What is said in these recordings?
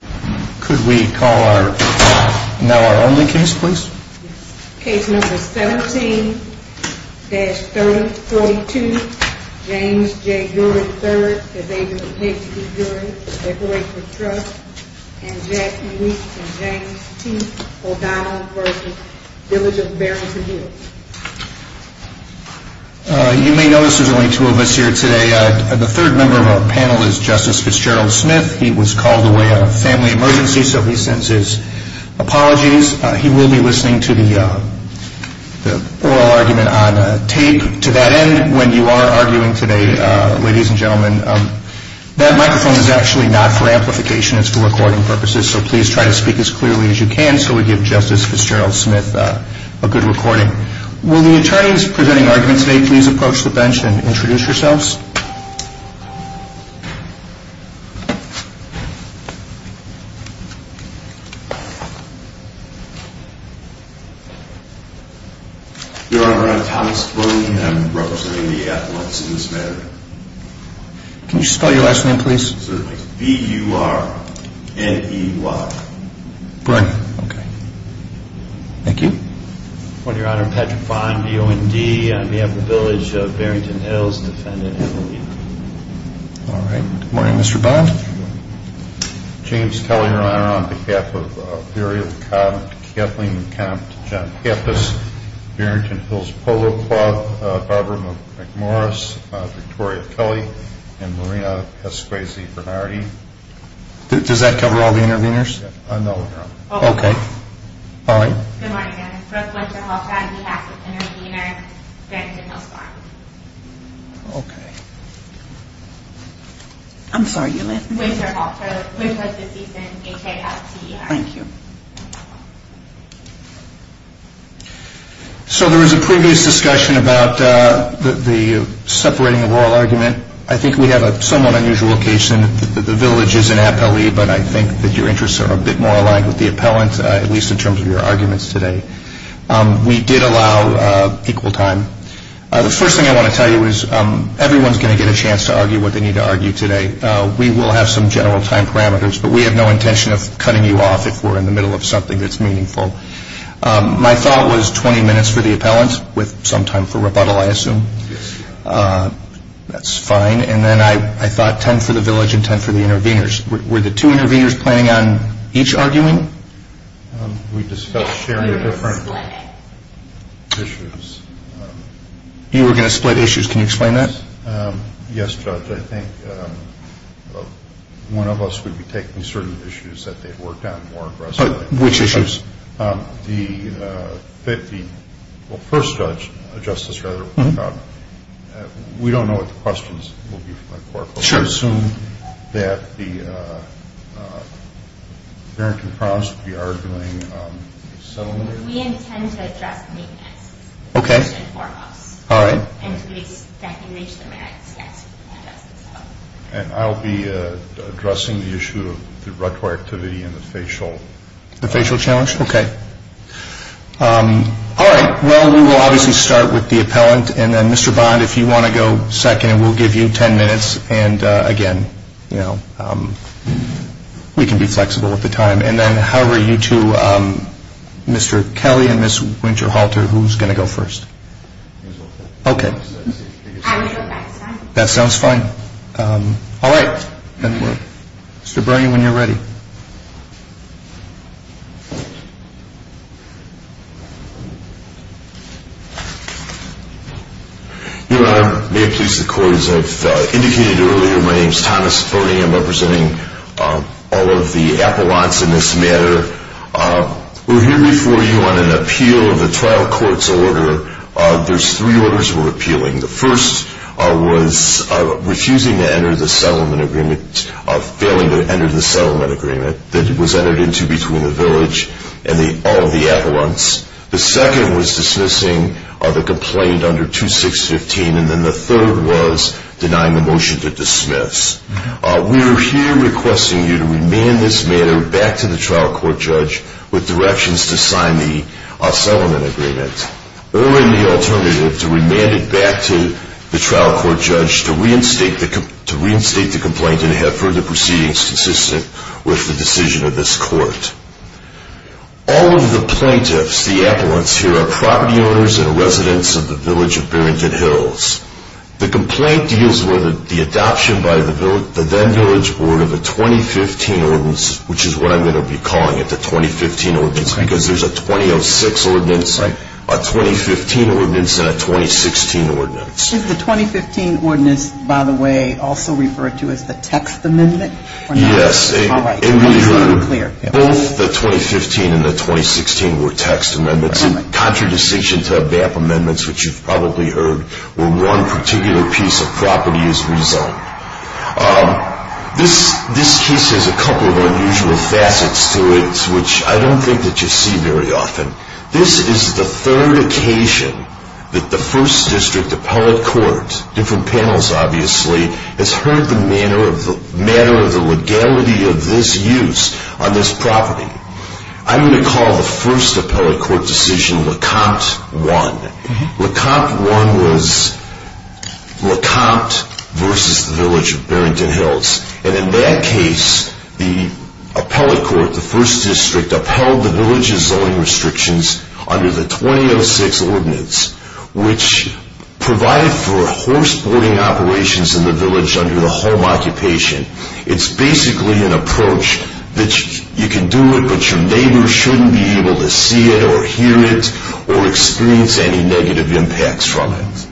Case No. 17-3042, James J. Dury III, is able to take the jury for separation of trust, and Jack Luke and James T. O'Donnell v. Village of Barrington Hills. You may notice there are only two of us here today. The third member of our panel is Justice Fitzgerald Smith. He was called away on a family emergency, so we send his apologies. He will be listening to the oral argument on tape. To that end, when you are arguing today, ladies and gentlemen, that microphone is actually not for amplification, it's for recording purposes, so please try to speak as clearly as you can so we give Justice Fitzgerald Smith a good recording. Will the attorneys presenting arguments today please approach the bench and introduce yourselves? Your Honor, I'm Thomas Boone, and I'm representing the affiliates in this matter. Can you spell your last name please? B-U-R-N-E-Y. Thank you. Your Honor, Patrick Fyne, B-O-N-D. I'm here at the Village of Barrington Hills, defending the case. Good morning, Mr. Boone. James Kelly, Your Honor, on behalf of Dury, McCobb, Kathleen, McCobb, John Pappas, Barrington Hills Polo Club, Barbara McMorris, Victoria Kelly, and Marina Casquese Bernardi. Does that cover all the interveners? No, Your Honor. Okay. All right. Good morning, Your Honor. Ruth Winterholt, Bradley Atkinson, Reginer, Barrington Hills Farm. Okay. I'm sorry, your last name? Winterholt, Ruth Winterholt. Thank you. So there was a previous discussion about the separating of oral argument. I think we have a somewhat unusual location. The Village is an appellee, but I think that your interests are a bit more aligned with the appellant, at least in terms of your arguments today. We did allow equal time. The first thing I want to tell you is everyone is going to get a chance to argue what they need to argue today. We will have some general time parameters, but we have no intention of cutting you off if we're in the middle of something that's meaningful. My thought was 20 minutes for the appellant with some time for rebuttal, I assume. That's fine. And then I thought 10 for the Village and 10 for the intervenors. Were the two intervenors planning on each arguing? We discussed very different issues. You were going to split issues. Can you explain that? Yes, Judge. I think one of us would be taking certain issues that they've worked on more aggressively. Which issues? The first judge, Justice Rutherford, we don't know what the questions will be for the court. I assume that the appellant in front of us will be arguing settlement? We intend to address that later. Okay. All right. And I'll be addressing the issue of the retroactivity and the facial. Facial challenge? Okay. All right. Well, we will obviously start with the appellant. And then Mr. Bond, if you want to go second, we'll give you 10 minutes. And again, you know, we can be flexible with the time. And then how are you two, Mr. Kelly and Ms. Winterhalter, who's going to go first? Okay. That sounds fine. All right. Mr. Bernie, when you're ready. Thank you. Your Honor, may it please the court, as I've indicated earlier, my name is Thomas Bernie. I'm representing all of the appellants in this matter. We're here before you on an appeal of the trial court's order. There's three orders we're appealing. The first was refusing to enter the settlement agreement, failing to enter the settlement agreement that was entered into between the village and all of the appellants. The second was dismissing the complaint under 2615. And then the third was denying the motion to dismiss. We are here requesting you to remand this matter back to the trial court judge with directions to sign the settlement agreement. We request early the alternative to remand it back to the trial court judge to reinstate the complaint and to have further proceedings consistent with the decision of this court. All of the plaintiffs, the appellants here, are property owners and residents of the village of Burrington Hills. The complaint deals with the adoption by the then village board of the 2015 ordinance, which is what I'm going to be calling it, the 2015 ordinance, because there's a 2006 ordinance. It's like a 2015 ordinance and a 2016 ordinance. The 2015 ordinance, by the way, also referred to as the text amendment? Yes. Both the 2015 and the 2016 were text amendments. In contradistinction to the BAP amendments, which you've probably heard, where one particular piece of property is resold. This case has a couple of unusual facets to it, which I don't think that you see very often. This is the third occasion that the first district appellate court, different panels obviously, has heard the matter of the legality of this use on this property. I'm going to call the first appellate court decision Lecomte 1. Lecomte 1 was Lecomte versus the village of Burrington Hills. In that case, the appellate court, the first district, upheld the village's zoning restrictions under the 2006 ordinance, which provided for horse boarding operations in the village under the home occupation. It's basically an approach that you can do it, but your neighbors shouldn't be able to see it or hear it or experience any negative impacts from it.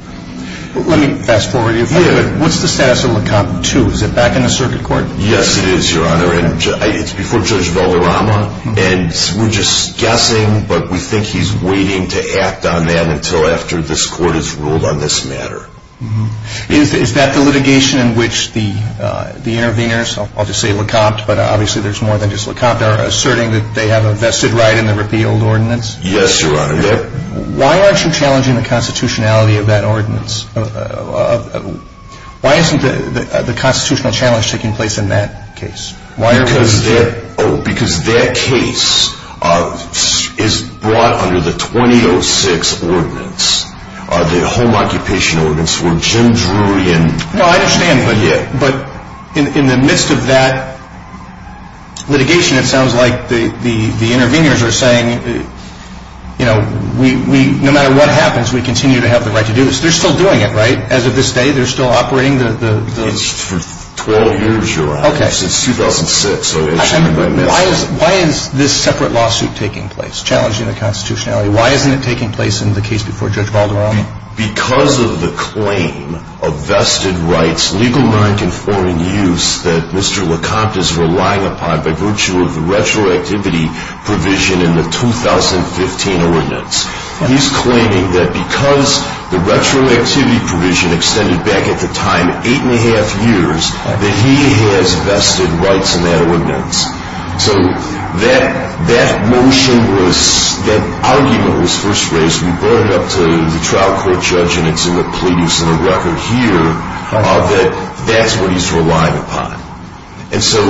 Let me fast forward a minute. What's the status of Lecomte 2? Is it back in the circuit court? Yes, it is, Your Honor. It's before Judge Valderrama, and we're just guessing, but we think he's waiting to act on that until after this court has ruled on this matter. Is that the litigation in which the interveners, I'll just say Lecomte, but obviously there's more than just Lecomte, are asserting that they have a vested right in the repealed ordinance? Yes, Your Honor. Why aren't you challenging the constitutionality of that ordinance? Why isn't the constitutional challenge taking place in that case? Because that case is brought under the 2006 ordinance, the home occupation ordinance, where Jim Drury and... No, I understand, but in the midst of that litigation, it sounds like the interveners are saying that no matter what happens, we continue to have the right to do it. They're still doing it, right? As of this day, they're still operating the... For 12 years, Your Honor, since 2006. I understand, but why isn't this separate lawsuit taking place, challenging the constitutionality? Why isn't it taking place in the case before Judge Valderrama? Because of the claim of vested rights, legal right in foreign use, that Mr. Lecomte is relying upon by virtue of the retroactivity provision in the 2015 ordinance. He's claiming that because the retroactivity provision extended back at the time 8 1⁄2 years, that he has vested rights in that ordinance. So, that motion was, that argument was first raised, we brought it up to the trial court judge, and it's in the plea, it's in the record here, that that's what he's relying upon. And so,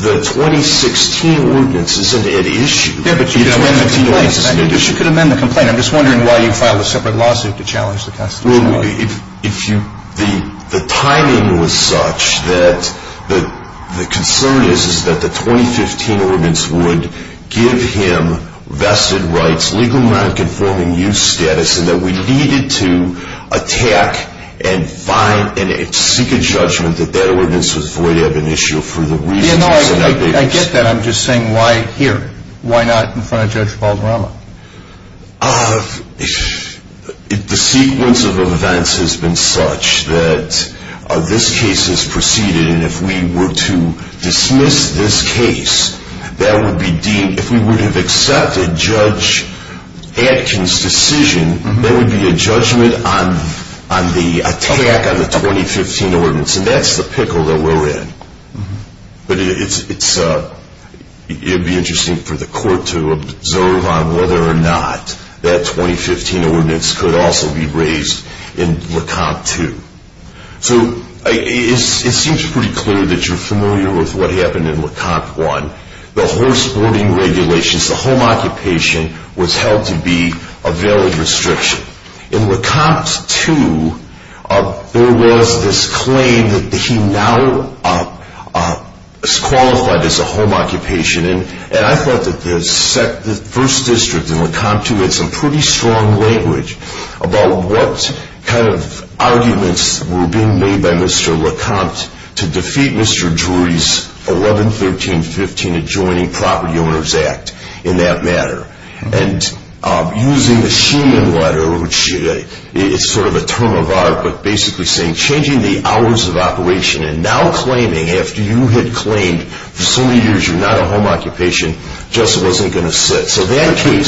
the 2016 ordinance isn't at issue. Yeah, but you could amend the complaint. You could amend the complaint. I'm just wondering why you filed a separate lawsuit to challenge the constitutionality. Well, the timing was such that the concern is, is that the 2015 ordinance would give him vested rights, legal right in foreign use status, and that we needed to attack and seek a judgment that that ordinance was void of in issue for the week. Yeah, no, I get that. I'm just saying, why here? Why not in front of Judge Valderrama? The sequence of events has been such that this case has proceeded, and if we were to dismiss this case, that would be deemed, if we would have accepted Judge Atkins' decision, there would be a judgment on the attack on the 2015 ordinance, and that's the pickle that we're in. But it's, it would be interesting for the court to observe on whether or not that 2015 ordinance could also be raised in Le Compte 2. So, it seems pretty clear that you're familiar with what happened in Le Compte 1. The horse boarding regulations, the home occupation was held to be a valid restriction. In Le Compte 2, there was this claim that he now is qualified as a home occupation, and I thought that the first district in Le Compte 2 had some pretty strong language about what kind of arguments were being made by Mr. Le Compte to defeat Mr. Drury's 11-13-15 Adjoining Property Owners Act in that matter. And using the Sheehan letter, which is sort of a term of art, but basically saying, changing the hours of operation, and now claiming, after you had claimed for so many years you're not a home occupation, just wasn't going to sit. So that case...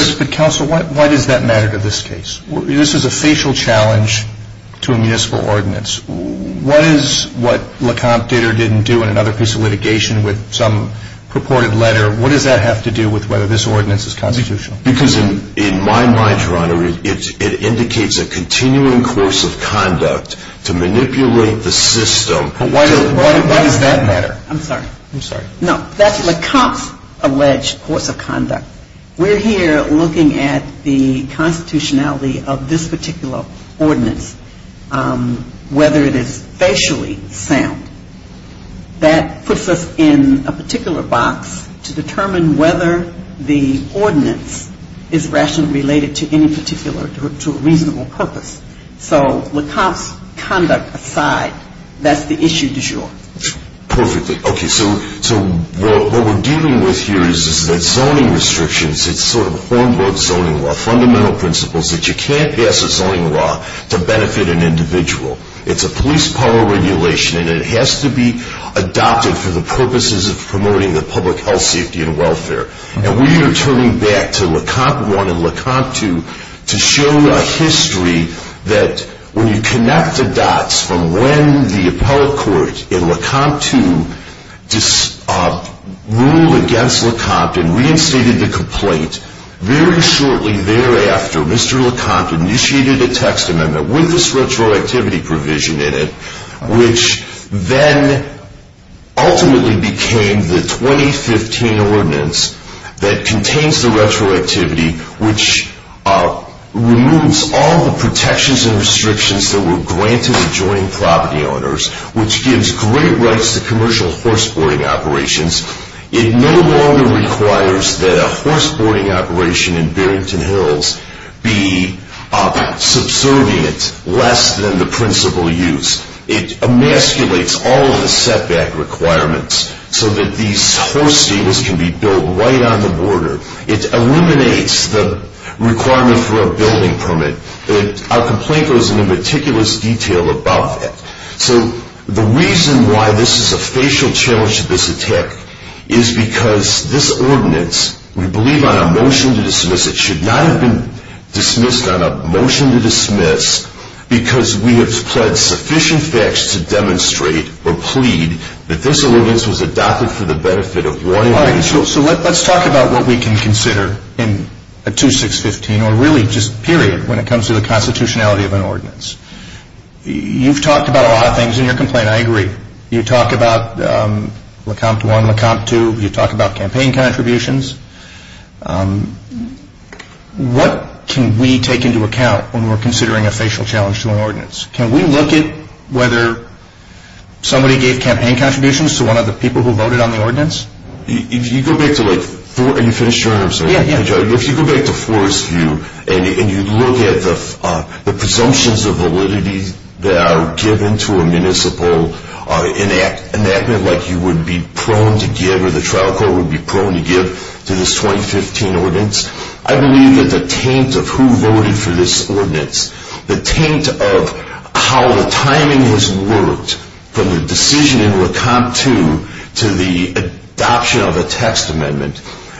This is a facial challenge to a municipal ordinance. What is what Le Compte did or didn't do in another piece of litigation with some purported letter? What does that have to do with whether this ordinance is constitutional? Because in my mind, Your Honor, it indicates a continuing course of conduct to manipulate the system. Why does that matter? I'm sorry. I'm sorry. No, that's Le Compte's alleged course of conduct. We're here looking at the constitutionality of this particular ordinance, whether it is facially sound. That puts us in a particular box to determine whether the ordinance is rationally related to any particular, to a reasonable purpose. So Le Compte's conduct aside, that's the issue du jour. Perfectly. Okay, so what we're dealing with here is zoning restrictions. It's sort of homegrown zoning law. Fundamental principles that you can't pass a zoning law to benefit an individual. It's a police power regulation, and it has to be adopted for the purposes of promoting the public health, safety, and welfare. And we are turning back to Le Compte I and Le Compte II to show a history that when you connect the dots from when the appellate court in Le Compte II ruled against Le Compte and reinstated the complaint, very shortly thereafter Mr. Le Compte initiated a text amendment with this retroactivity provision in it, which then ultimately became the 2015 ordinance that contains the retroactivity, which removes all the protections and restrictions that were granted to joint property owners, which gives great rights to commercial horse boarding operations. It no longer requires that a horse boarding operation in Barrington Hills be subservient, less than the principal use. It emasculates all of the setback requirements so that these horse stables can be built right on the border. It eliminates the requirement for a building permit. Our complaint goes into meticulous detail about that. So the reason why this is a facial challenge to this attack is because this ordinance, we believe on a motion to dismiss, it should not have been dismissed on a motion to dismiss because we have supplied sufficient facts to demonstrate or plead that this ordinance was adopted for the benefit of one individual. So let's talk about what we can consider in a 2-6-15, or really just period, when it comes to the constitutionality of an ordinance. You've talked about a lot of things in your complaint, I agree. You've talked about Le Compte 1, Le Compte 2. You've talked about campaign contributions. What can we take into account when we're considering a facial challenge to an ordinance? Can we look at whether somebody gave campaign contributions to one of the people who voted on the ordinance? If you go back to Forest View and you look at the presumptions of validity that are given to a municipal enactment like you would be prone to give, or the trial court would be prone to give to this 2-6-15 ordinance, I believe that the taint of who voted for this ordinance, the taint of how the timing has worked from the decision in Le Compte 2 to the adoption of a text amendment,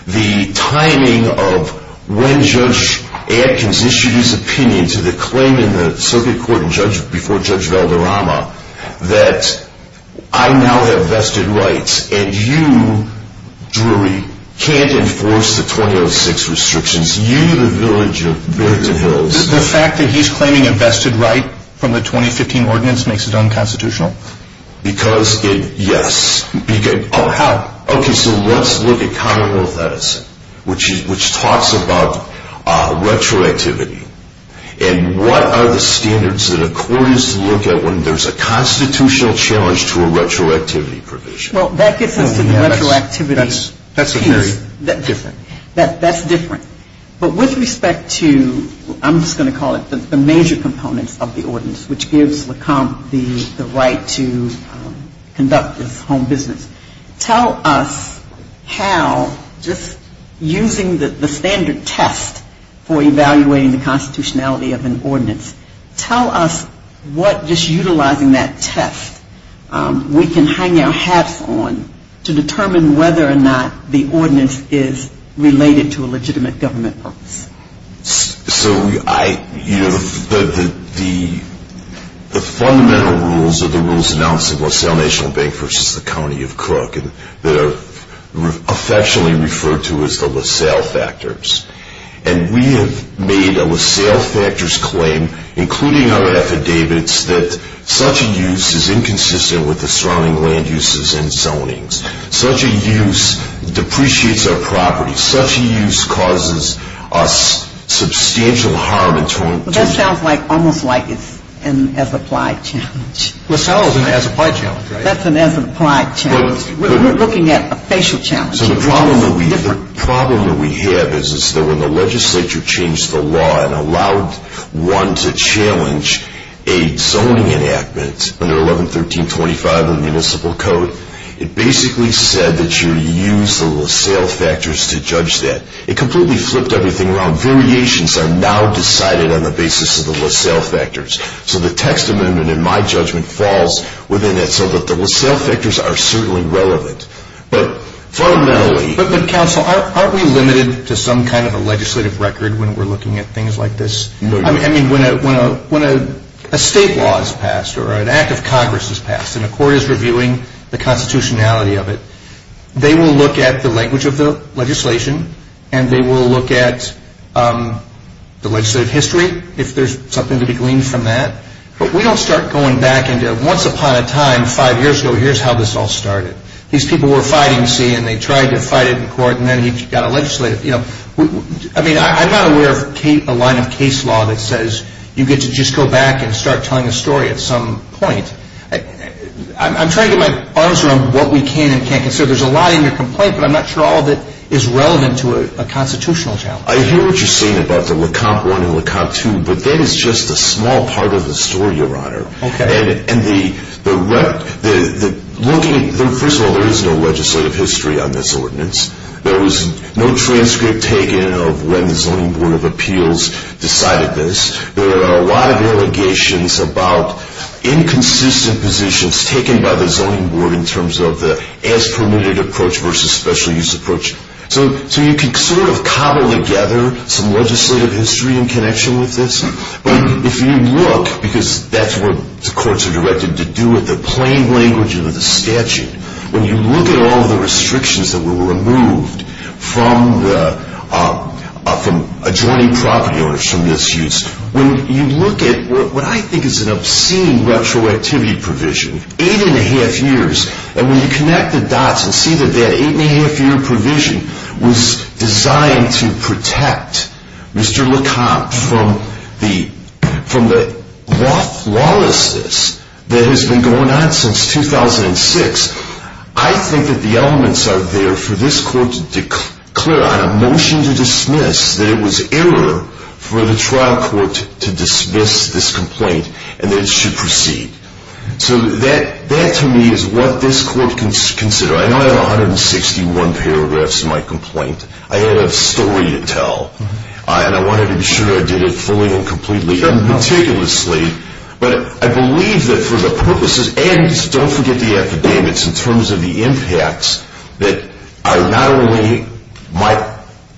the timing of when Judge Adkins issued his opinion to the claim in the circuit court before Judge Valderrama that I now have vested rights and you, Drury, can't enforce the 2-0-6 restrictions. You, the village of Bury the Hills... Because, yes... Okay, so let's look at Continental Medicine, which talks about retroactivity and what are the standards that a court is to look at when there's a constitutional challenge to a retroactivity provision? That's a very different... That's different. But with respect to, I'm just going to call it the major components of the ordinance, which gives Le Compte the right to conduct his home business. Tell us how, just using the standard test for evaluating the constitutionality of an ordinance, tell us what, just utilizing that test, we can hang our hats on to determine whether or not the ordinance is related to a legitimate government purpose. So, the fundamental rules are the rules announced in LaSalle National Bank v. the County of Cook that are affectionately referred to as the LaSalle Factors. And we have made a LaSalle Factors claim, including our affidavits, that such a use is inconsistent with the surrounding land uses and zonings. Such a use depreciates our property. Such a use causes us substantial harm in 2020. That sounds almost like an as-applied challenge. LaSalle is an as-applied challenge, right? That's an as-applied challenge. We're looking at a facial challenge. The problem that we have is that when the legislature changed the law and allowed one to challenge a zoning enactment under 1113.25 of the municipal code, it basically said that you use the LaSalle Factors to judge that. It completely flipped everything around. Variations are now decided on the basis of the LaSalle Factors. So the testament in my judgment falls within that so that the LaSalle Factors are certainly relevant. But fundamentally... But counsel, aren't we limited to some kind of a legislative record when we're looking at things like this? I mean, when a state law is passed or an act of Congress is passed and a court is reviewing the constitutionality of it, they will look at the language of the legislation and they will look at the legislative history, if there's something to be gleaned from that. But we don't start going back and go, once upon a time, five years ago, here's how this all started. These people were fighting, see, and they tried to fight it in court and then we got a legislative... I mean, I'm not aware of a line of case law that says you get to just go back and start telling the story at some point. I'm trying to get my arms around what we can and can't do. So there's a lot in your complaint, but I'm not sure all of it is relevant to a constitutional challenge. I hear what you're saying about the Lecomte I and Lecomte II, but that is just a small part of the story, Your Honor. Okay. And the... First of all, there is no legislative history on this ordinance. There was no transcript taken of when the Zoning Board of Appeals decided this. There are a lot of allegations about inconsistent positions taken by the Zoning Board in terms of the as-permitted approach versus special-use approach. So you can sort of cobble together some legislative history in connection with this. But if you look, because that's what the courts are directed to do with the plain language of the statute, when you look at all the restrictions that were removed from adjoining property orders from this use, when you look at what I think is an obscene retroactivity provision, eight-and-a-half years, and when you connect the dots and see that that eight-and-a-half-year provision was designed to protect Mr. Lecomte from the lawlessness that has been going on since 2006, I think that the elements are there for this court to declare on a motion to dismiss that it was error for the trial court to dismiss this complaint and that it should proceed. So that, to me, is what this court can consider. I don't have 161 paragraphs in my complaint. I don't have a story to tell. And I wanted to be sure I did it fully and completely and ridiculously. But I believe that for the purposes, and don't forget the affidavits, in terms of the impacts that not only my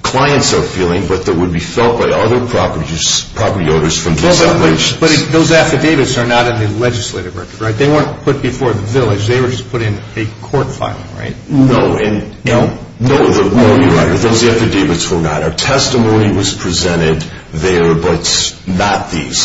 clients are feeling, but that would be felt by other property owners from the village. But those affidavits are not in the legislative record, right? They weren't put before the village. They were just put in a court file, right? No. No, those affidavits were not. A testimony was presented there, but not these.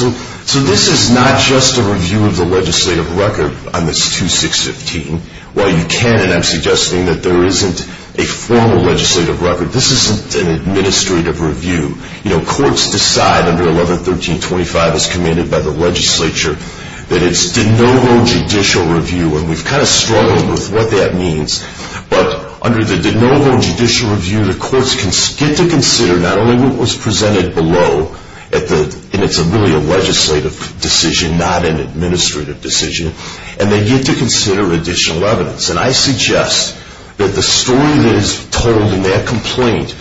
So this is not just a review of the legislative record on this 2615. While you can, and I'm suggesting that there isn't a formal legislative record, this is an administrative review. You know, courts decide under 1113.25, as committed by the legislature, that it's de novo judicial review. And we've kind of struggled with what that means. But under the de novo judicial review, the courts can skip to consider not only what was presented below in a familial legislative decision, not an administrative decision, and they get to consider additional evidence. And I suggest that the story that is told in that complaint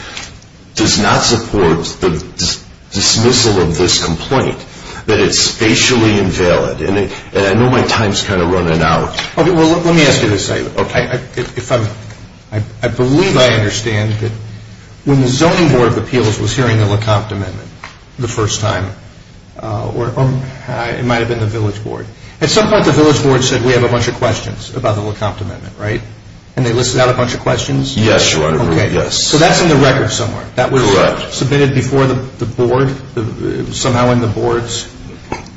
does not support the dismissal of this complaint, that it's spatially invalid. And I know my time is kind of running out. Okay, well, let me ask you this. I believe I understand that when the Zoning Board of Appeals was hearing the LaCoste Amendment the first time, it might have been the Village Board, at some point the Village Board said we have a bunch of questions about the LaCoste Amendment, right? And they listed out a bunch of questions? Yes, Your Honor. Okay, so that's in the record somewhere. That was submitted before the Board, somehow in the Boards?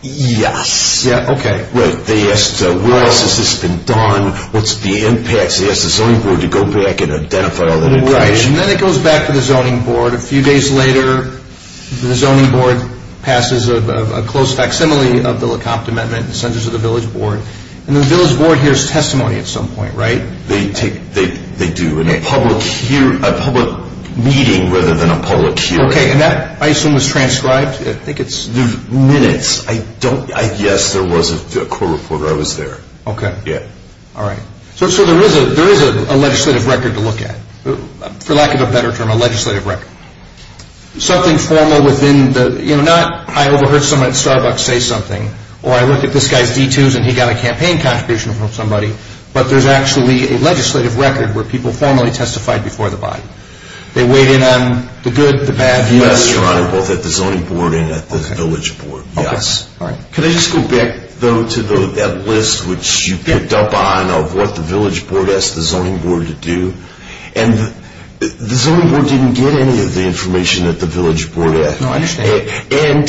Yes. Yeah, okay. Right, they asked where else has this been done, what's the impact? They asked the Zoning Board to go back and identify all the information. Right, and then it goes back to the Zoning Board. A few days later, the Zoning Board passes a close facsimile of the LaCoste Amendment and sends it to the Village Board. And the Village Board hears testimony at some point, right? They do, in a public hearing, a public meeting rather than a public hearing. Okay, and that, I assume, was transcribed? I think it's minutes. Yes, there was a court report, I was there. Okay. Yeah. All right. So there is a legislative record to look at, for lack of a better term, a legislative record. Something formal within the, you know, not I overheard someone at Starbucks say something, or I looked at this guy's e-tunes and he got a campaign contribution from somebody, but there's actually a legislative record where people formally testified before the body. They weighed in on the good, the bad, the good, the bad. I'm accountable for the Zoning Board and the Village Board, yes. Okay, all right. Can I just go back, though, to that list, which you picked up on, of what the Village Board asked the Zoning Board to do? And the Zoning Board didn't get any of the information that the Village Board asked. No, I understand. And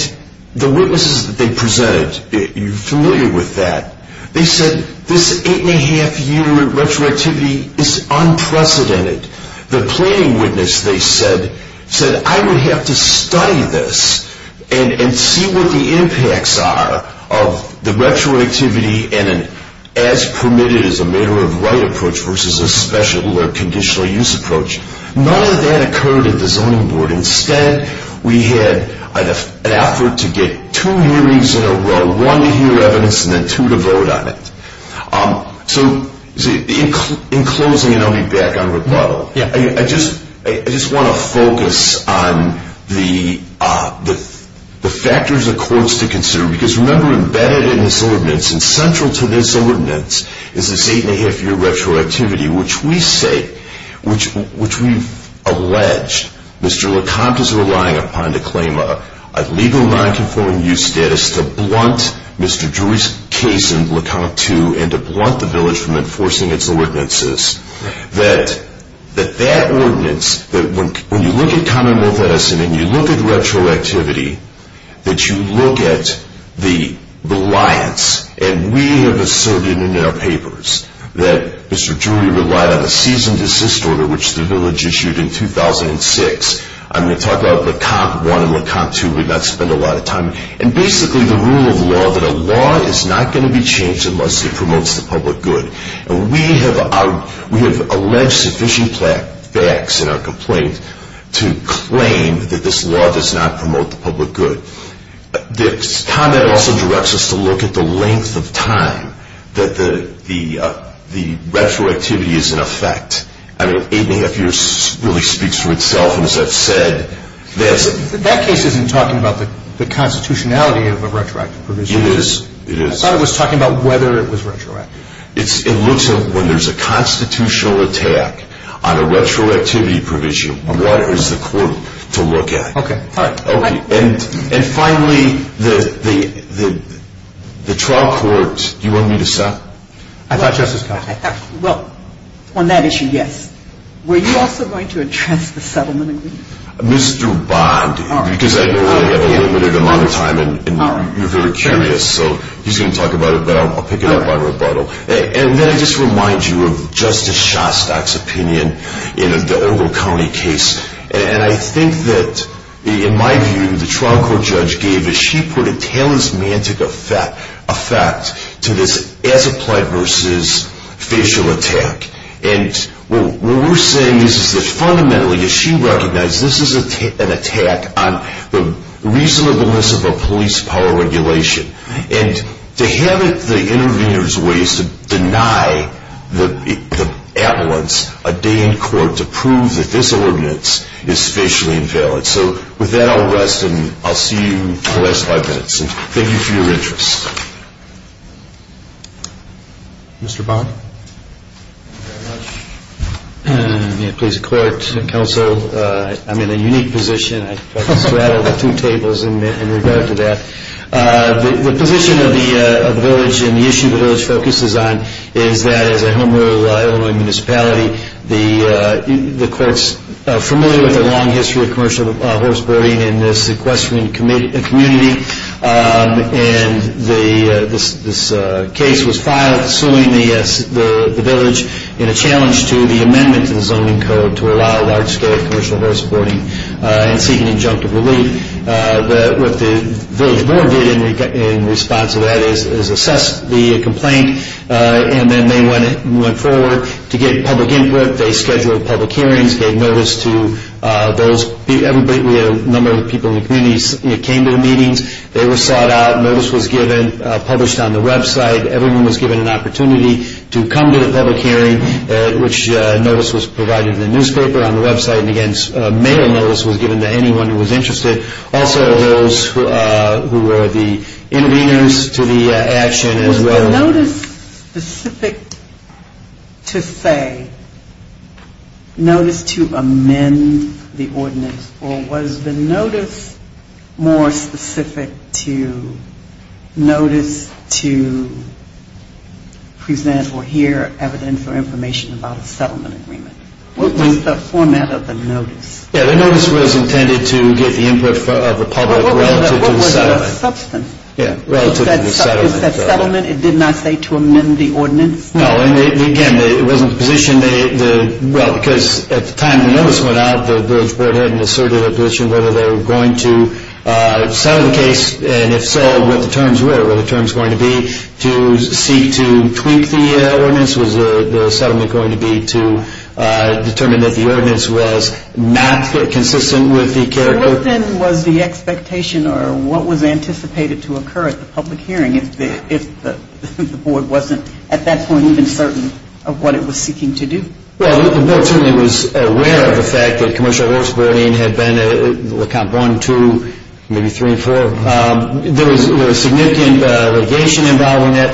the witnesses that they presented, if you're familiar with that, they said this eight-and-a-half-year retroactivity is unprecedented. The planning witness, they said, said I would have to study this and see what the impacts are of the retroactivity and an as-permitted-as-a-voter-of-right approach versus a special or conditional use approach. None of that occurred at the Zoning Board. Instead, we had an effort to get two hearings in a row, one to hear evidence and then two to vote on it. So, in closing, and I'll be back on rebuttal, I just want to focus on the factors of course to consider, because remember embedded in this ordinance and central to this ordinance is this eight-and-a-half-year retroactivity, which we say, which we've alleged Mr. LeConte is relying upon to claim a legal nonconforming use status to blunt Mr. Drury's case in LeConte II and to blunt the village from enforcing its ordinances. That that ordinance, when you look at common law medicine and you look at retroactivity, that you look at the reliance and we are the Soviet in our papers, that Mr. Drury relied on a cease-and-desist order, which the village issued in 2006. I'm going to talk about LeConte I and LeConte II. And basically the rule of law that a law is not going to be changed unless it promotes the public good. We have alleged sufficient facts in our complaint to claim that this law does not promote the public good. This comment also directs us to look at the length of time that the retroactivity is in effect. I don't know if eight-and-a-half years really speaks for itself. That case isn't talking about the constitutionality of a retroactive provision. It is. I thought it was talking about whether it was retroactive. It looks at when there's a constitutional attack on a retroactivity provision. What is the court to look at? Okay. And finally, the trial court, do you want me to stop? I thought you were supposed to stop. Well, on that issue, yes. Were you also going to address the settlement? Mr. Bond, because I know I've got a little bit of amount of time, and you're very curious. So he's going to talk about it, but I'll pick it up by rebuttal. And let me just remind you of Justice Shostak's opinion in the Ogle County case. And I think that, in my view, the trial court judge gave a she-put-it-tell-us-man-to-the-fact effect to this anti-plague-versus-facial attack. And what we're saying is this. Fundamentally, as she recognized, this is an attack on the reasonableness of a police power regulation. And to have it the intervener's way is to deny the avalanche a day in court to prove that this ordinance is facially invalid. So with that, I'll rest, and I'll see you in the last five minutes. Thank you for your interest. Mr. Bond? May it please the clerks and counsel, I'm in a unique position. I've sat at a few tables in regard to that. The position of those and the issues that those focuses on is that as a home of Illinois municipality, the courts are familiar with the long history of commercial horse boarding and the sequestering community. And this case was filed soon in the village in a challenge to the amendment in zoning code to allow large-scale commercial horse boarding and seeking injunctive relief. What the village board did in response to that is assess the complaint. And then they went forward to get public input. They scheduled public hearings. There were a number of people who came to the meetings. They were sought out. Notice was given, published on the website. Everyone was given an opportunity to come to the public hearing, which notice was provided in the newspaper. On the website, a mail notice was given to anyone who was interested. Also those who were the interveners to the action as well. Was the notice specific to say notice to amend the ordinance or was the notice more specific to notice to present or hear evidence or information about a settlement agreement? What was the format of the notice? The notice was intended to get the input of the public. What was the substance? Was that settlement? It did not say to amend the ordinance? No. Again, it wasn't the position. Well, because at the time the notice went out, the village board had an assertive position whether they were going to settle the case. And if so, what the terms were. Were the terms going to be to seek to tweak the ordinance? Was the settlement going to be to determine that the ordinance was not consistent with the character? What then was the expectation or what was anticipated to occur at the public hearing if the board wasn't at that point even certain of what it was seeking to do? Well, the village board was aware of the fact that commercial horse breeding had been a Comp 1, 2, maybe 3, 4. There was significant litigation involving it,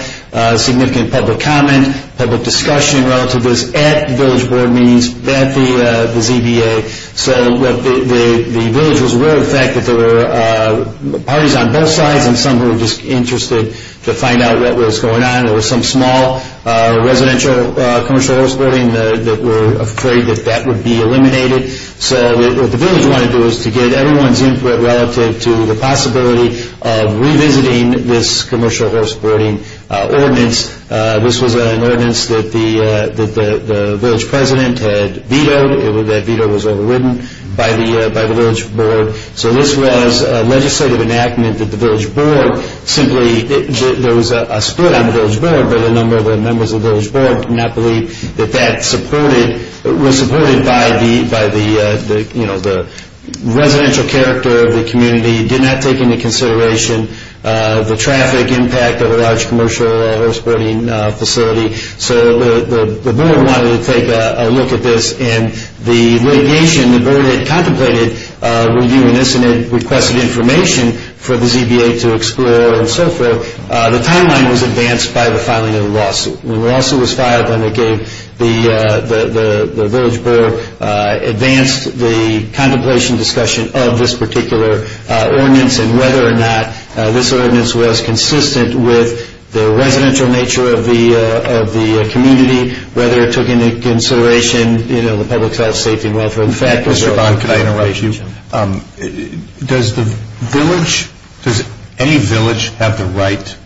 significant public comment, public discussion relative to this at the village board meetings, at the VBA. So the village was aware of the fact that there were parties on both sides and some were just interested to find out what was going on. There was some small residential commercial horse breeding that were afraid that that would be eliminated. So what the village wanted to do was to get everyone's input relative to the possibility of revisiting this commercial horse breeding ordinance. This was an ordinance that the village president had vetoed. That veto was overridden by the village board. So this was a legislative enactment that the village board, simply there was a split on the village board but a number of the members of the village board did not believe that that was supported by the residential character of the community, did not take into consideration the traffic impact of a large commercial horse breeding facility. So the board wanted to take a look at this and the litigation that the village board had contemplated would be an incident requesting information for the VBA to explore and so forth. The timeline was advanced by the filing of the lawsuit. The lawsuit was filed when the village board advanced the contemplation discussion of this particular ordinance and whether or not this ordinance was consistent with the residential nature of the community, whether it took into consideration public health, safety, and welfare. In fact, Mr. Bond, can I interrupt you? Does the village, does any village have the right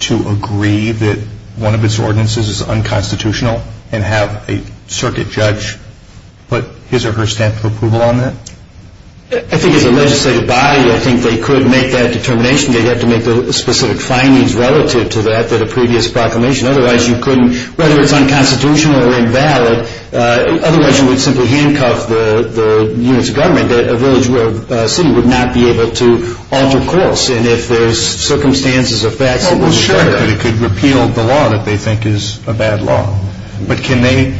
to agree that one of its ordinances is unconstitutional and have a circuit judge put his or her stamp of approval on that? I think as a legislative body, I think they could make that determination. They'd have to make the specific findings relative to that, to the previous proclamation. Otherwise you couldn't, whether it's unconstitutional or invalid, otherwise you would simply handcuff the unit's government. A village board city would not be able to alter course. And if there's circumstances of that, they could repeal the law that they think is a bad law. But can they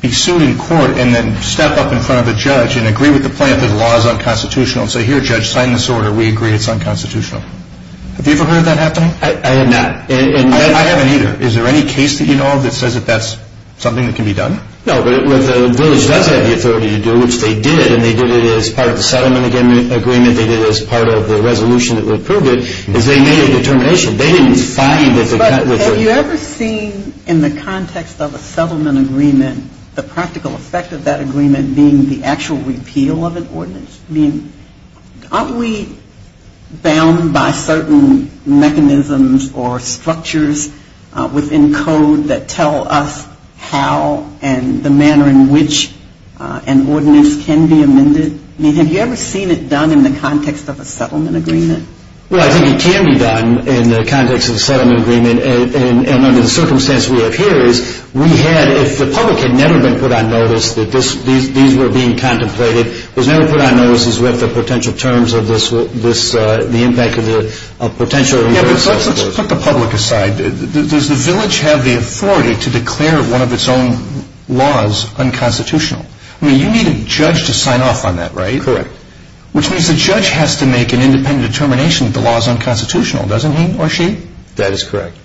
be sued in court and then step up in front of a judge and agree with the plaintiff that the law is unconstitutional and say, here judge, sign this order, we agree it's unconstitutional. Have you ever heard that happen? I have not. I haven't either. Is there any case that you know of that says that that's something that can be done? No, but the village does have the authority to do it, which they did, and they did it as part of the settlement agreement, and they did it as part of the resolution that would approve it, because they made a determination. They didn't respond to it. But have you ever seen, in the context of a settlement agreement, the practical effect of that agreement being the actual repeal of an ordinance? I mean, aren't we bound by certain mechanisms or structures within code that tell us how and the manner in which an ordinance can be amended? I mean, have you ever seen it done in the context of a settlement agreement? Well, I think it can be done in the context of a settlement agreement, and under the circumstances we have here, the public had never been put on notice that these were being contemplated. It was never put on notice as to what the potential terms of this, the impact of the potential. Let's put the public aside. Does the village have the authority to declare one of its own laws unconstitutional? I mean, you need a judge to sign off on that, right? Correct. Which means the judge has to make an independent determination that the law is unconstitutional, doesn't he or she? That is correct.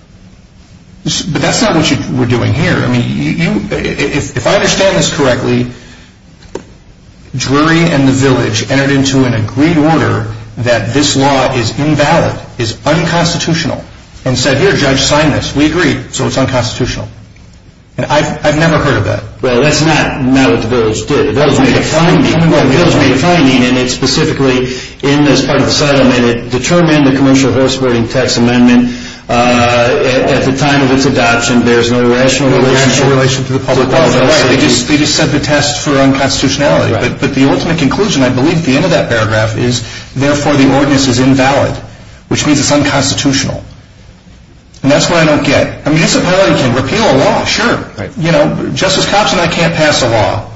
But that's not what we're doing here. I mean, if I understand this correctly, Drury and the village entered into an agreed order that this law is invalid, is unconstitutional, and said, here, judge, sign this. We agree. So it's unconstitutional. I've never heard of that. Well, that's not what the village did. The village made a point, and it specifically, in this part of the settlement, determined in the Commercial House Voting Tax Amendment, at the time of its adoption, there's no rational relation to the public policy. Right. They just set the test for unconstitutionality. But the ultimate conclusion, I believe, at the end of that paragraph is, therefore, the ordinance is invalid, which means it's unconstitutional. And that's what I don't get. I mean, it's a violation. Repeal a law, sure. You know, Justice Thompson, I can't pass a law.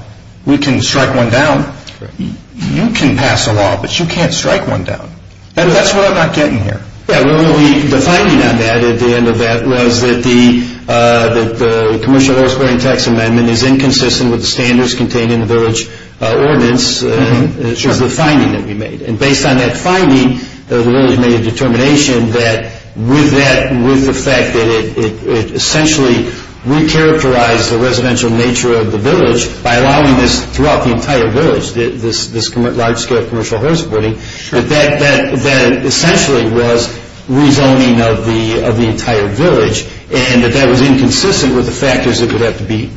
We can strike one down. You can pass a law, but you can't strike one down. That's what I'm not getting here. Yeah, well, the finding on that, at the end of that, was that the Commercial House Voting Tax Amendment is inconsistent with the standards contained in the village ordinance, and it's just the finding that we made. And based on that finding, the village made a determination that, with the fact that it essentially re-characterized the residential nature of the village by allowing this throughout the entire village, this large-scale commercial house voting, that it essentially was rezoning of the entire village, and that that was inconsistent with the factors that would have to be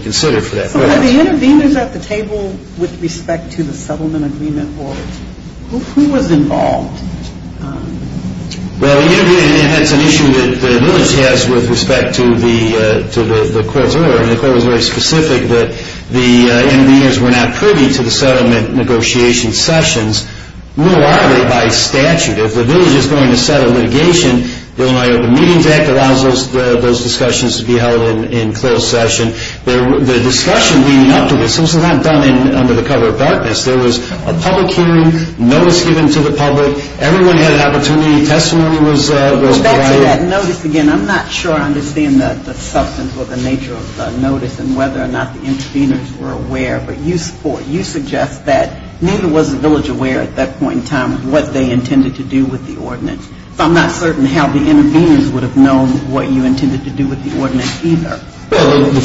considered for that purpose. But the interveners at the table with respect to the settlement agreement Who was involved? Well, the interveners had some issues with the village as with respect to the court's order. And the court was very specific that the interveners were not privy to the settlement negotiation sessions, nor are they by statute. If the village is going to set a litigation, the meeting deck allows those discussions to be held in closed session. The discussion leading up to this, this was not done under the cover of darkness. There was a public hearing, notice given to the public, everyone had an opportunity, testimony was provided. I'm not sure I understand the substance or the nature of the notice and whether or not the interveners were aware, but you suggest that neither was the village aware at that point in time of what they intended to do with the ordinance. I'm not certain how the interveners would have known what you intended to do with the ordinance either. Well, again, what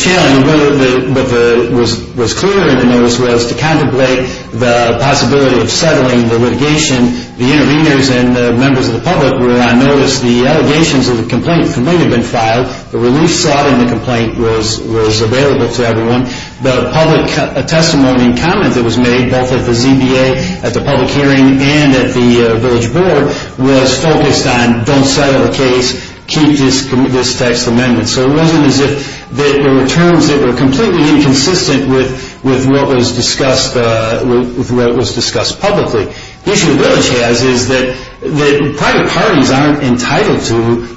was clear in the notice was to contemplate the possibility of settling the litigation. The interveners and the members of the public were on notice. The allegations of the complaint had been filed. The release slot in the complaint was available to everyone. The public testimony and comment that was made, both at the ZBA, at the public hearing, and at the village board, was focused on don't settle the case, keep this text remembered. So it wasn't as if there were terms that were completely inconsistent with what was discussed publicly. The issue with those guys is that private parties aren't entitled to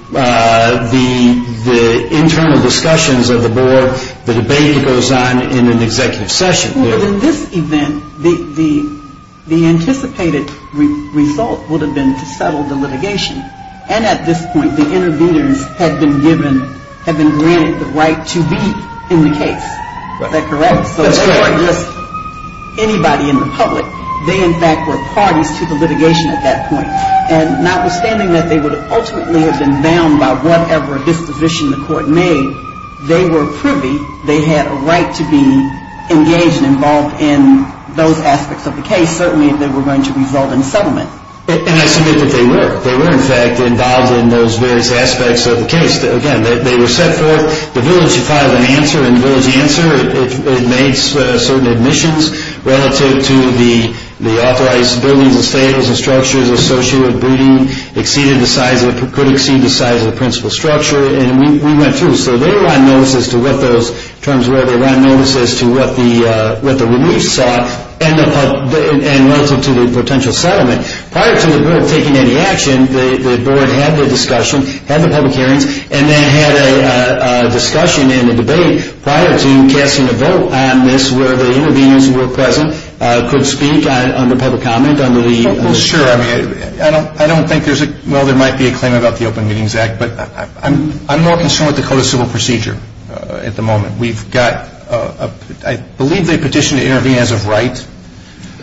the internal discussions of the board. The debate goes on in an executive session. Well, in this event, the anticipated result would have been to settle the litigation, and at this point the interveners have been granted the right to be in the case. Is that correct? That's correct. Anybody in the public, they in fact were parties to the litigation at that point, and notwithstanding that they would ultimately have been bound by whatever disposition the court made, they were privy. They had a right to be engaged and involved in those aspects of the case, certainly if they were going to resolve and settle it. And I think that they were. They were, in fact, involved in those various aspects of the case. Again, they were set for it. The village filed an answer, and the village answered. It made certain admissions relative to the authorized building, the stables, the structures associated with the building, could exceed the size of the principal structure, and we went through. So they were on notice as to what those terms were. They were on notice as to what the remit saw, and welcome to the potential settlement. Prior to the court taking any action, the board had the discussion, had the public hearings, and then had a discussion and a debate prior to casting a vote on this where the interveners who were present could speak on the public comment under the Open Meetings Act. Sure. I don't think there's a – well, there might be a claim about the Open Meetings Act, but I'm more concerned with the Code of Civil Procedure at the moment. We've got – I believe they petitioned to intervene as of right.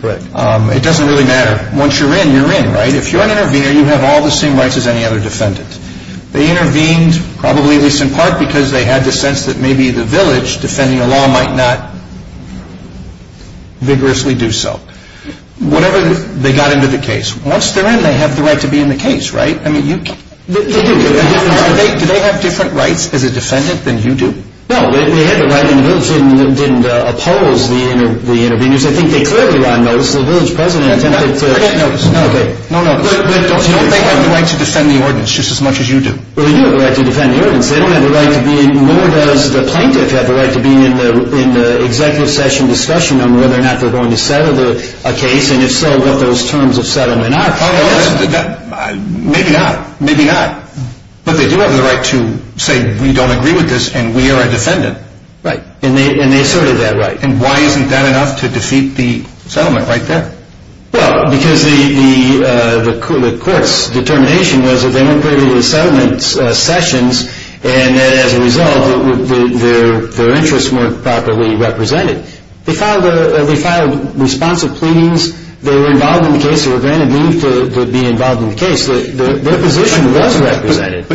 Correct. It doesn't really matter. Once you're in, you're in, right? If you're an intervener, you have all the same rights as any other defendant. They intervened, probably at least in part because they had the sense that maybe the village, defending the law, might not vigorously do so. Whatever – they got into the case. Once they're in, they have the right to be in the case, right? I mean, you can't – They have different rights for the defendant than you do. No, they didn't oppose the interveners. I think they could have run, though, because the village president attempted to – No, no. They have the right to defend the ordinance just as much as you do. Well, you have the right to defend the ordinance. They don't have the right to be in – none of us as plaintiffs have the right to be in an executive session discussion on whether or not we're going to settle the case, and if so, what those terms of settlement are. Maybe not. Maybe not. Look, they do have the right to say that we don't agree with this and we are a defendant. Right. And they asserted that right. And why isn't that enough to defeat the settlement like that? Well, because the court's determination was that they were going to be in settlement sessions, and as a result, their interests weren't properly represented. They filed responsive pleadings. They were involved in the case. They were granted leave to be involved in the case. Their position was represented.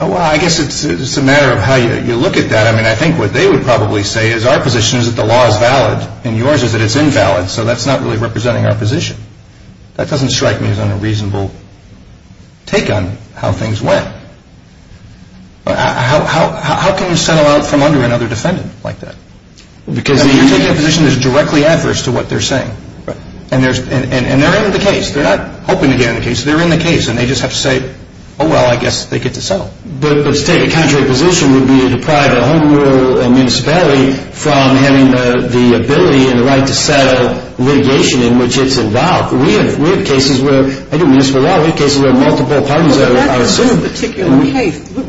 Well, I guess it's a matter of how you look at that. I mean, I think what they would probably say is our position is that the law is valid, and yours is that it's invalid, so that's not really representing our position. That doesn't strike me as a reasonable take on how things went. How can you settle out from under another defendant like that? Because, I mean, you're taking a position that's directly adverse to what they're saying. Right. And they're in the case. They're not hoping to get in the case. They're in the case, and they just have to say, oh, well, I guess they get to settle. But to take a contrary position would be to deprive a home rule municipality from having the ability and the right to settle litigation in which it's allowed. We have cases where, I think in this regard, we have cases where multiple parties are serving.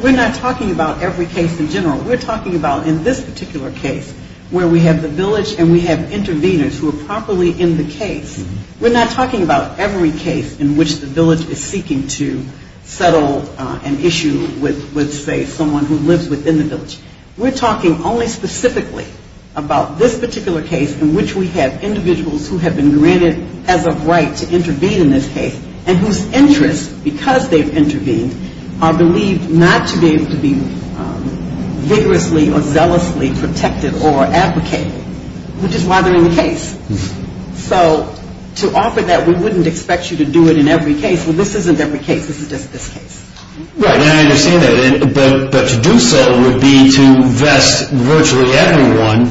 We're not talking about every case in general. We're talking about in this particular case where we have the village and we have interveners who are properly in the case. We're not talking about every case in which the village is seeking to settle an issue with, say, someone who lives within the village. We're talking only specifically about this particular case in which we have individuals who have been granted as a right to intervene in this case and whose interests, because they've intervened, are believed not to be able to be vigorously or zealously protected or advocated, which is why they're in the case. So to offer that, we wouldn't expect you to do it in every case. This isn't every case. This is just this case. Right. And I understand that. But to do so would be to vest virtually everyone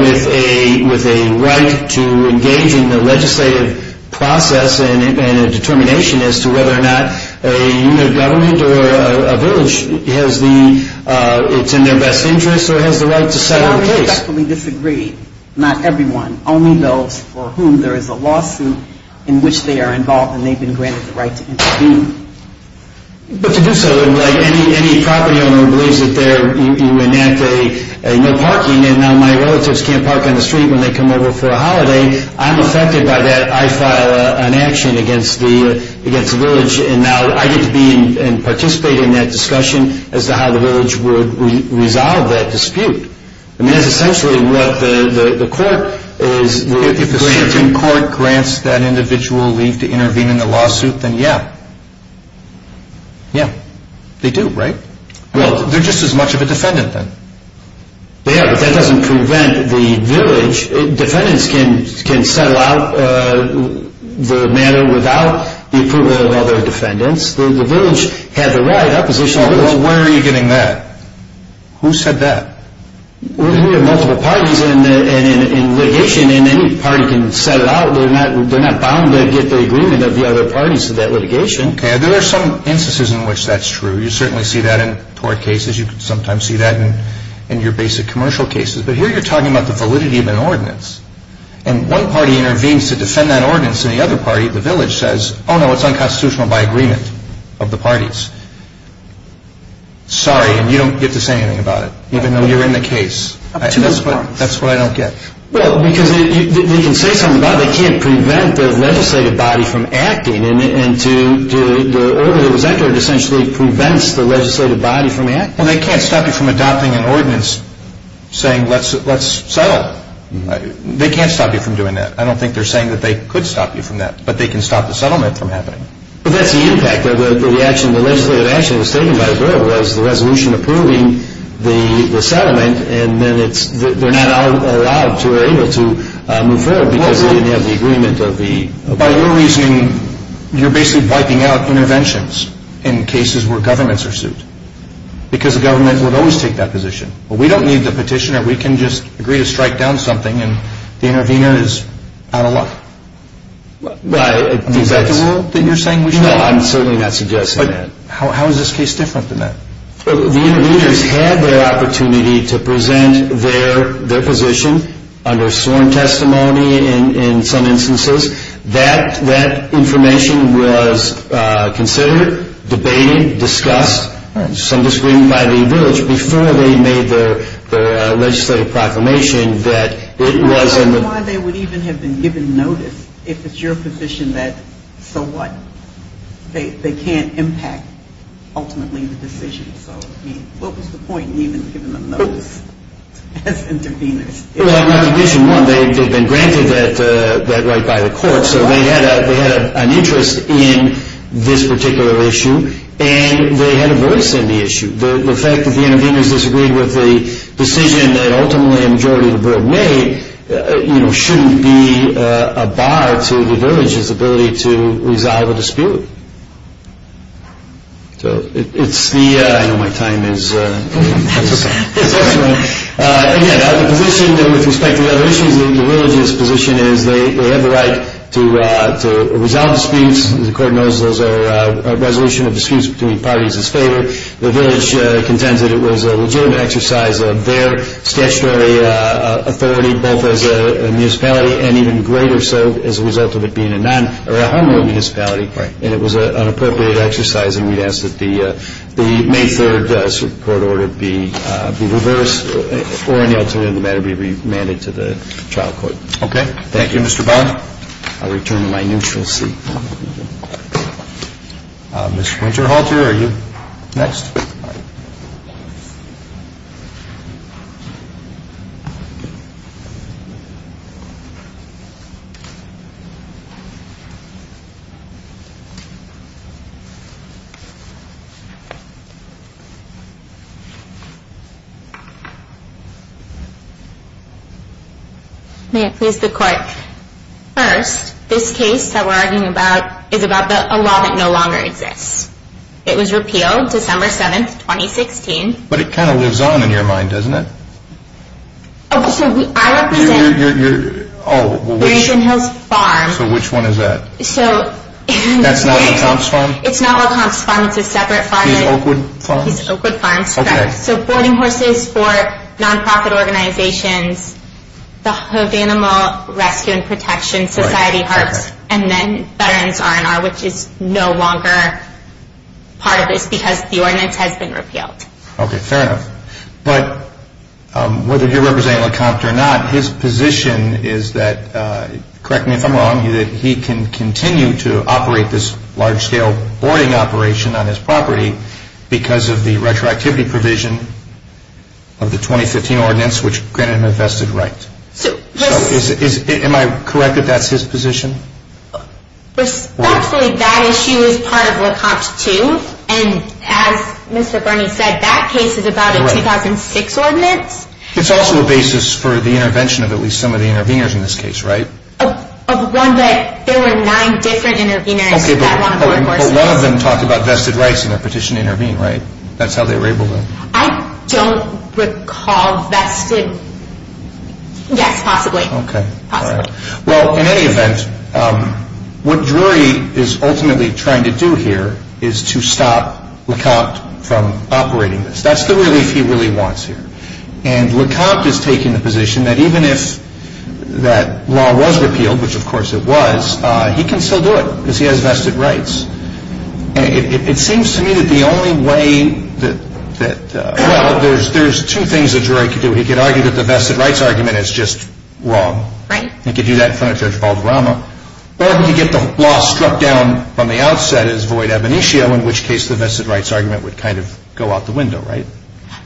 with a right to engage in the legislative process and a determination as to whether or not a unit of government or a village has the, it's in their best interest or has the right to settle a case. The property owners actually disagree. Not everyone. Only those for whom there is a lawsuit in which they are involved and they've been granted the right to intervene. But to do so, any property owner believes that they're, you enact a parking, and now my relatives can't park on the street when they come over for a holiday. I'm accepted by that. I file an action against the village. And now I could be in participating in that discussion as to how the village would resolve that dispute. I mean, essentially what the court is, if the Supreme Court grants that individual leave to intervene in the lawsuit, then yeah. Yeah. They do, right? Well, they're just as much of a defendant then. Yeah. That doesn't prevent the village. Defendants can settle out the matter without the approval of other defendants. The village has a right, oppositional right. Well, where are you getting that? Who said that? We have multiple parties, and litigation in any party can set it out. They're not bound to get the agreement of the other parties for that litigation. Okay. There are some instances in which that's true. You certainly see that in court cases. You can sometimes see that in your basic commercial cases. But here you're talking about the validity of an ordinance. And one party intervenes to defend that ordinance, and the other party, the village, says, oh, no, it's unconstitutional by agreement of the parties. Sorry, and you don't get to say anything about it, even though you're in the case. That's what I don't get. Well, because you can say something about it. You can't prevent the legislative body from acting. And the order that was entered essentially prevents the legislative body from acting. Well, they can't stop you from adopting an ordinance saying, let's settle. They can't stop you from doing that. I don't think they're saying that they could stop you from that. But they can stop the settlement from happening. But that's the impact of the legislative action that was taken by the village, was the resolution approving the settlement, and then they're not allowed to be able to move forward because they don't have the agreement of the... By no reason, you're basically wiping out interventions in cases where governments are sued. Because the government would always take that position. Well, we don't need the petitioner. We can just agree to strike down something, and the intervener is out of luck. Is that what you're saying? No, I'm certainly not suggesting that. How is this case different than that? The interveners had their opportunity to present their position under sworn testimony in some instances. That information was considered, debated, discussed, some disagreed by the village, before we made the legislative proclamation that it was... I don't know why they would even have been given notice if it's your position that, so what? They can't impact, ultimately, the decision. What was the point in even giving them notice as interveners? Well, in addition, they had been granted that right by the court, so they had an interest in this particular issue, and they had a voice in the issue. The fact that the interveners disagreed with the decision that ultimately the majority of the board made shouldn't be a bar to the village's ability to resolve a dispute. I know my time is... Again, with respect to resolution, the village's position is they have a right to resolve disputes. The court knows those are a resolution of disputes between parties and state. The village contends that it was a legitimate exercise of their statutory authority, both as a municipality and even greater so as a result of it being a non-or a homely municipality. And it was an appropriate exercise, and we ask that the May 3rd court order be reversed or any alternative matter be remanded to the child court. Okay. Thank you, Mr. Bowen. I return to my neutral seat. Mr. Richard Halter, are you next? May it please the court. First, this case that we're arguing about is about a law that no longer exists. It was repealed December 7th, 2016. But it kind of lives on in your mind, doesn't it? Oh, so I actually... You're, you're, you're... Oh, well, wait a second. Nathan Hill's Farm. Nathan Hill's Farm. Nathan Hill's Farm. Nathan Hill's Farm. Nathan Hill's Farm. That's not a comp's farm? It's not a comp's farm. It's a separate farm. The Oakwood Farm? The Oakwood Farm. Okay. So, boarding houses for non-profit organizations, the House Animal Resting Protection Society, and then Veterans R&R, which is no longer part of this because the ordinance has been repealed. Okay, fair enough. But whether you're representing a comp or not, his position is that, correct me if I'm wrong, that he can continue to operate this large-scale boarding operation on his property because of the retroactivity provision of the 2015 ordinance, which granted him infested rights. So, is it, is it, am I correct that that's his position? Respectfully, that issue is part of what comps do. And as Mr. Burney said, that case is about a 2006 ordinance. It's also a basis for the intervention of at least some of the interveners in this case, right? Of one that, there were nine different interveners. Okay, but one of them talked about vested rights in a petition to intervene, right? That's how they were able to. I don't recall that he could, yes, possibly. Okay. Okay. Well, in any event, what Drury is ultimately trying to do here is to stop Le Copte from operating this. That's the relief he really wants here. And Le Copte is taking the position that even if that law was repealed, which of course it was, he can still do it because he has vested rights. And it seems to me that the only way that, well, there's two things that Drury could do. He could argue that the vested rights argument is just wrong. Right. He could do that in front of Judge Balderrama. Or he could get the law struck down on the outset as void ab initio, in which case the vested rights argument would kind of go out the window, right?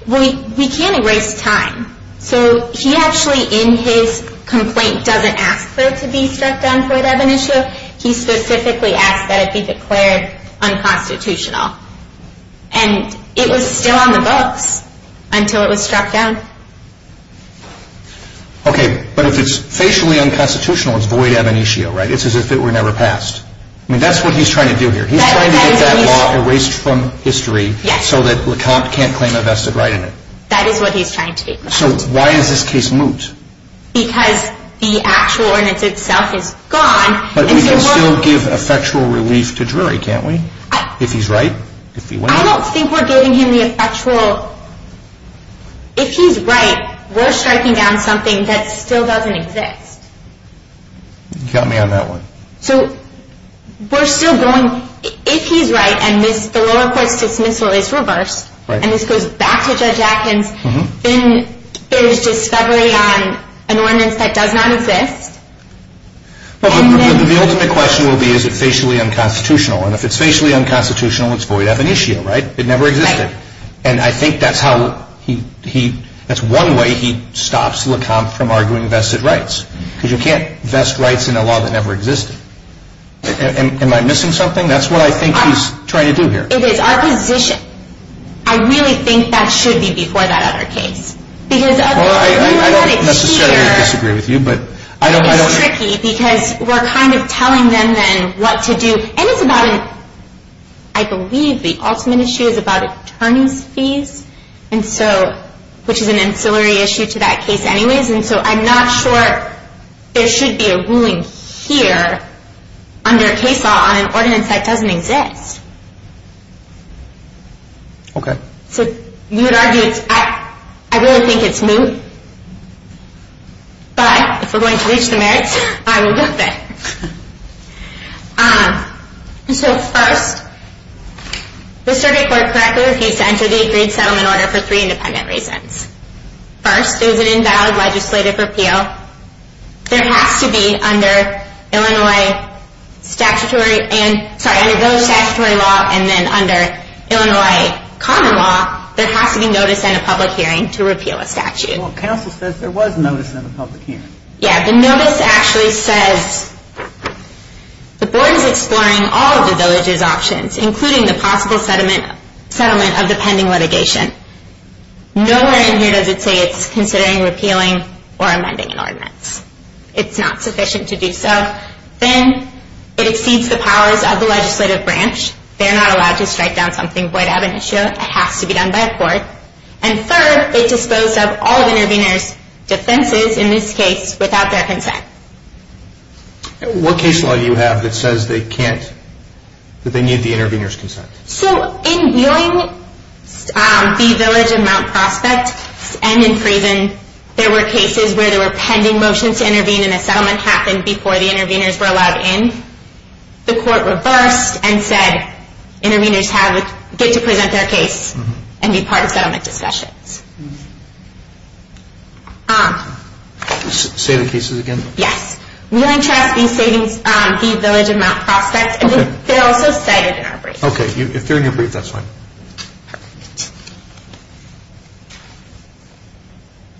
We can't erase time. So he actually, in his complaint, doesn't ask for it to be struck down as void ab initio. He specifically asks that it be declared unconstitutional. And it was still on the books until it was struck down. Okay. But if it's facially unconstitutional, it's void ab initio, right? It's as if it were never passed. And that's what he's trying to do here. He's trying to get that law erased from history so that LaCombe can't claim a vested right in it. That is what he's trying to do. So why is this case moot? Because the actual ordinance itself is gone. But we can still give effectual relief to Drury, can't we, if he's right? I don't think we're giving him the effectual. If he's right, we're striking down something that still doesn't exist. You can count me on that one. So we're still going, if he's right and the lower court dismisses Rachel Bush and he goes back to Judge Atkins in his discovery on an ordinance that does not exist? The ultimate question would be, is it facially unconstitutional? And if it's facially unconstitutional, it's void ab initio, right? It never existed. And I think that's one way he stops LaCombe from arguing vested rights. Because you can't vest rights in a law that never existed. Am I missing something? That's what I think he's trying to do here. It is our position. I really think that should be before that other case. Well, I don't necessarily disagree with you, but I don't know. Because we're kind of telling them then what to do. And it's about, I believe the ultimate issue is about attorney fees, which is an ancillary issue to that case anyways. And so I'm not sure there should be a ruling here on their case on an ordinance that doesn't exist. Okay. So you would argue, I really think it's moot. But if we're going to reach the merits, I will look at it. So first, the circuit court practically gave time for these three to settle in order for three independent reasons. First, there's an invalid legislative appeal. There has to be under Illinois statutory law and then under Illinois common law, there has to be notice and a public hearing to repeal a statute. Well, counsel says there was notice and a public hearing. Yeah. The notice actually says the board is exploring all of the villagers' options, including the possible settlement of the pending litigation. No one in here does it say it's considering repealing or amending an ordinance. It's not sufficient to do so. Then it exceeds the powers of the legislative branch. They're not allowed to strike down something without an issue. It has to be done by a court. And third, it disposes of all of the intervener's defenses, in this case, without their consent. What case law do you have that says they can't, that they need the intervener's consent? So in Willingham v. Village and Mount Prospect and in Friesen, there were cases where there were pending motions to intervene and a settlement happened before the interveners were allowed in. The court reversed and said interveners had the right to present their case and be part of the settlement discussion. Say the cases again? Yes. Willingham v. Village and Mount Prospect. Okay. You're doing your brief. That's fine.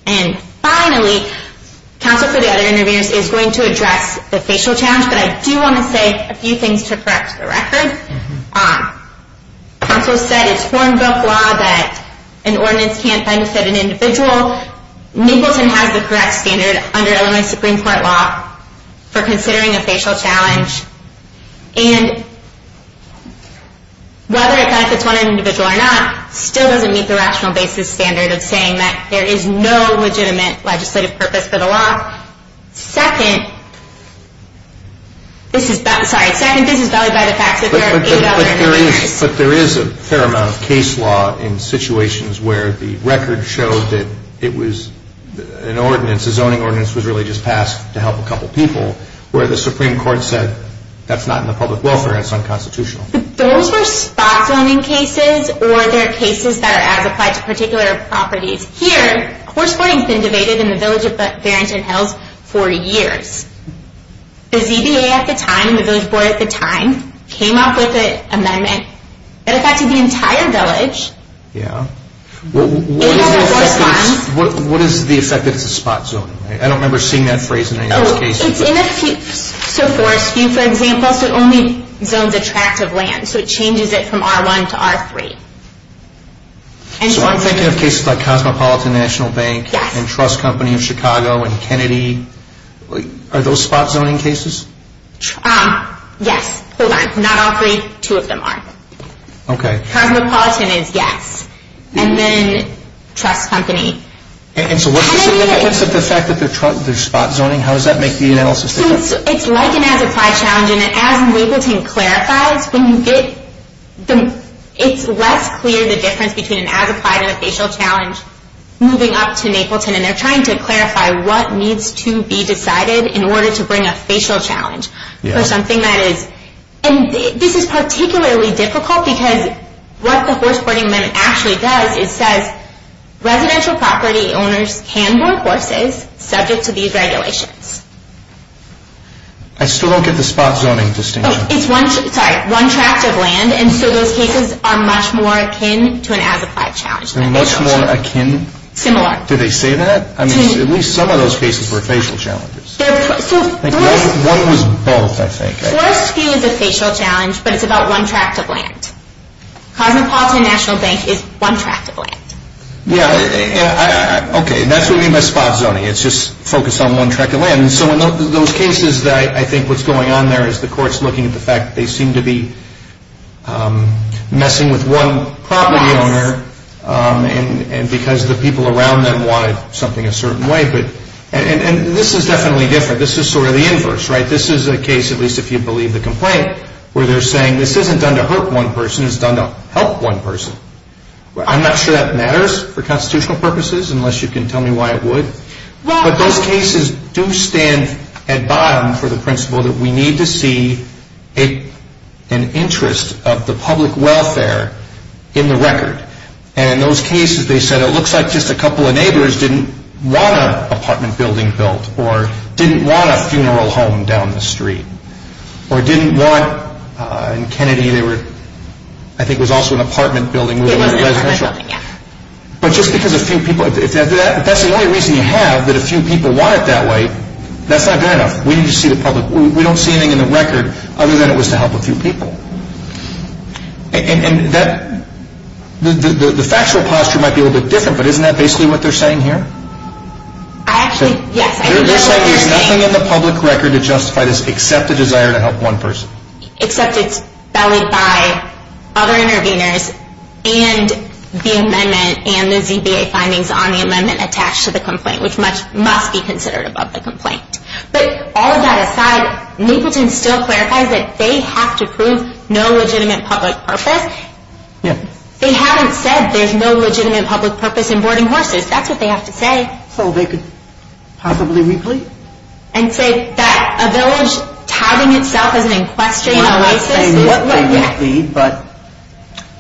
And finally, Council for the Other Interveners is going to address the facial challenge, but I do want to say a few things to correct the record. Council said it's foreign bill law that an ordinance can't find a set of individuals who don't have the correct standard under Illinois Supreme Court law for considering a facial challenge. And whether it's not just one individual or not, it still doesn't meet the rational basis standard of saying that there is no legitimate legislative purpose for the law. Second, this is, I'm sorry. Second, this is valid by the fact that there are eight other cases. But there is a paramount case law in situations where the record showed that it was an ordinance. A zoning ordinance was really just passed to help a couple people where the Supreme Court said that's not in the public welfare act. It's unconstitutional. Those are spot zoning cases or they're cases that are applied to particular properties. Here, course boarding has been debated in the Village of Fairington Hills for years. The ZBA at the time, the Village Board at the time, came up with an amendment that affected the entire village. Yeah. What is the effect of spot zoning? I don't remember seeing that phrase in any of those cases. For a few examples, it only builds a tract of land. So it changes it from R1 to R3. I'm thinking of cases like Cosmopolitan National Bank and Trust Company of Chicago and Kennedy. Are those spot zoning cases? Yes. Not R3. Two of them are. Okay. Cosmopolitan is yes. And then Trust Company. And so what is the effect of the spot zoning? How does that make the analysis different? It's like an as-applied challenge. And as people can clarify, it's less clear the difference between an as-applied and a spatial challenge moving up to Napleton. And they're trying to clarify what needs to be decided in order to bring a spatial challenge. And this is particularly difficult because what the Horseporting Act actually does, it says residential property owners can work with it subject to these regulations. I still don't get the spot zoning distinction. It's one tract of land, and so those cases are much more akin to an as-applied challenge. Much more akin? Similar. Do they say that? I mean, at least some of those cases were spatial challenges. So what is the spatial challenge, but it's about one tract of land? Cosmopolitan National Bank is one tract of land. Yeah. Okay, and that's what we mean by spot zoning. It's just focused on one tract of land. And so in those cases, I think what's going on there is the court's looking at the fact that they seem to be messing with one property owner and because the people around them wanted something a certain way. And this is definitely different. This is sort of the inverse, right? This is a case, at least if you believe the complaint, where they're saying this isn't done to hurt one person, it's done to help one person. I'm not sure that matters for constitutional purposes, unless you can tell me why it would. But those cases do stand at bottom for the principle that we need to see an interest of the public welfare in the record. And in those cases, they said, well, it looks like just a couple of neighbors didn't want an apartment building built or didn't want a funeral home down the street or didn't want, in Kennedy they were, I think it was also an apartment building. But just because a few people, if that's the only reason you have, that a few people want it that way, that's not good enough. We need to see the public. We don't see anything in the record other than it was to help a few people. And that, the factual posture might be a little bit different, but isn't that basically what they're saying here? I actually, yes. They're saying there's nothing in the public record that justifies this except the desire to help one person. Except it's spelled by other interveners and the amendment and the VBA findings on the amendment attached to the complaint, which must be considered above the complaint. But all that aside, people can still clarify that they have to prove no legitimate public purpose. They haven't said there's no legitimate public purpose in boarding horses. That's what they have to say. So they could possibly replete? And say that a village housing itself is an infraction of a license.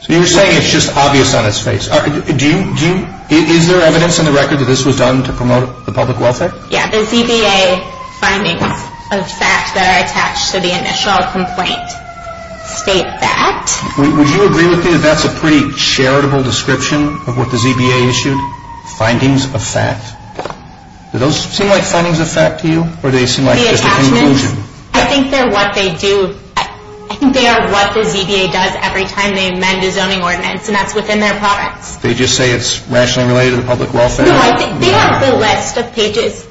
So you're saying it's just obvious on its face. Do you, is there evidence on the record that this was done to promote the public welfare? Yeah, the VBA findings of fact that are attached to the initial complaint state that. Would you agree with me that that's a pretty charitable description of what the VBA issued? Findings of fact. Do those seem like findings of fact to you? Or do they seem like just a conclusion? I think they're what they do. I think they are what the VBA does every time they amend a zoning ordinance and that's within their power. They just say it's nationally related to public welfare? They have to list the pages.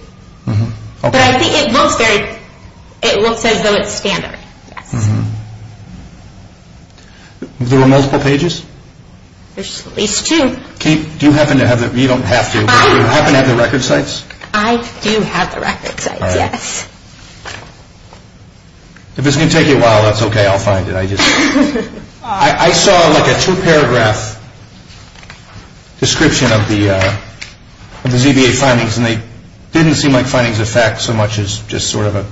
But I think it looks like it looked at those standards. There were multiple pages? There's at least two. Do you happen to have, you don't have to. Do you happen to have the record sites? I do have the record sites, yes. If it's going to take you a while, that's okay. I'll find it. I saw like a two paragraph description of the VBA findings and they didn't seem like findings of fact so much as just sort of a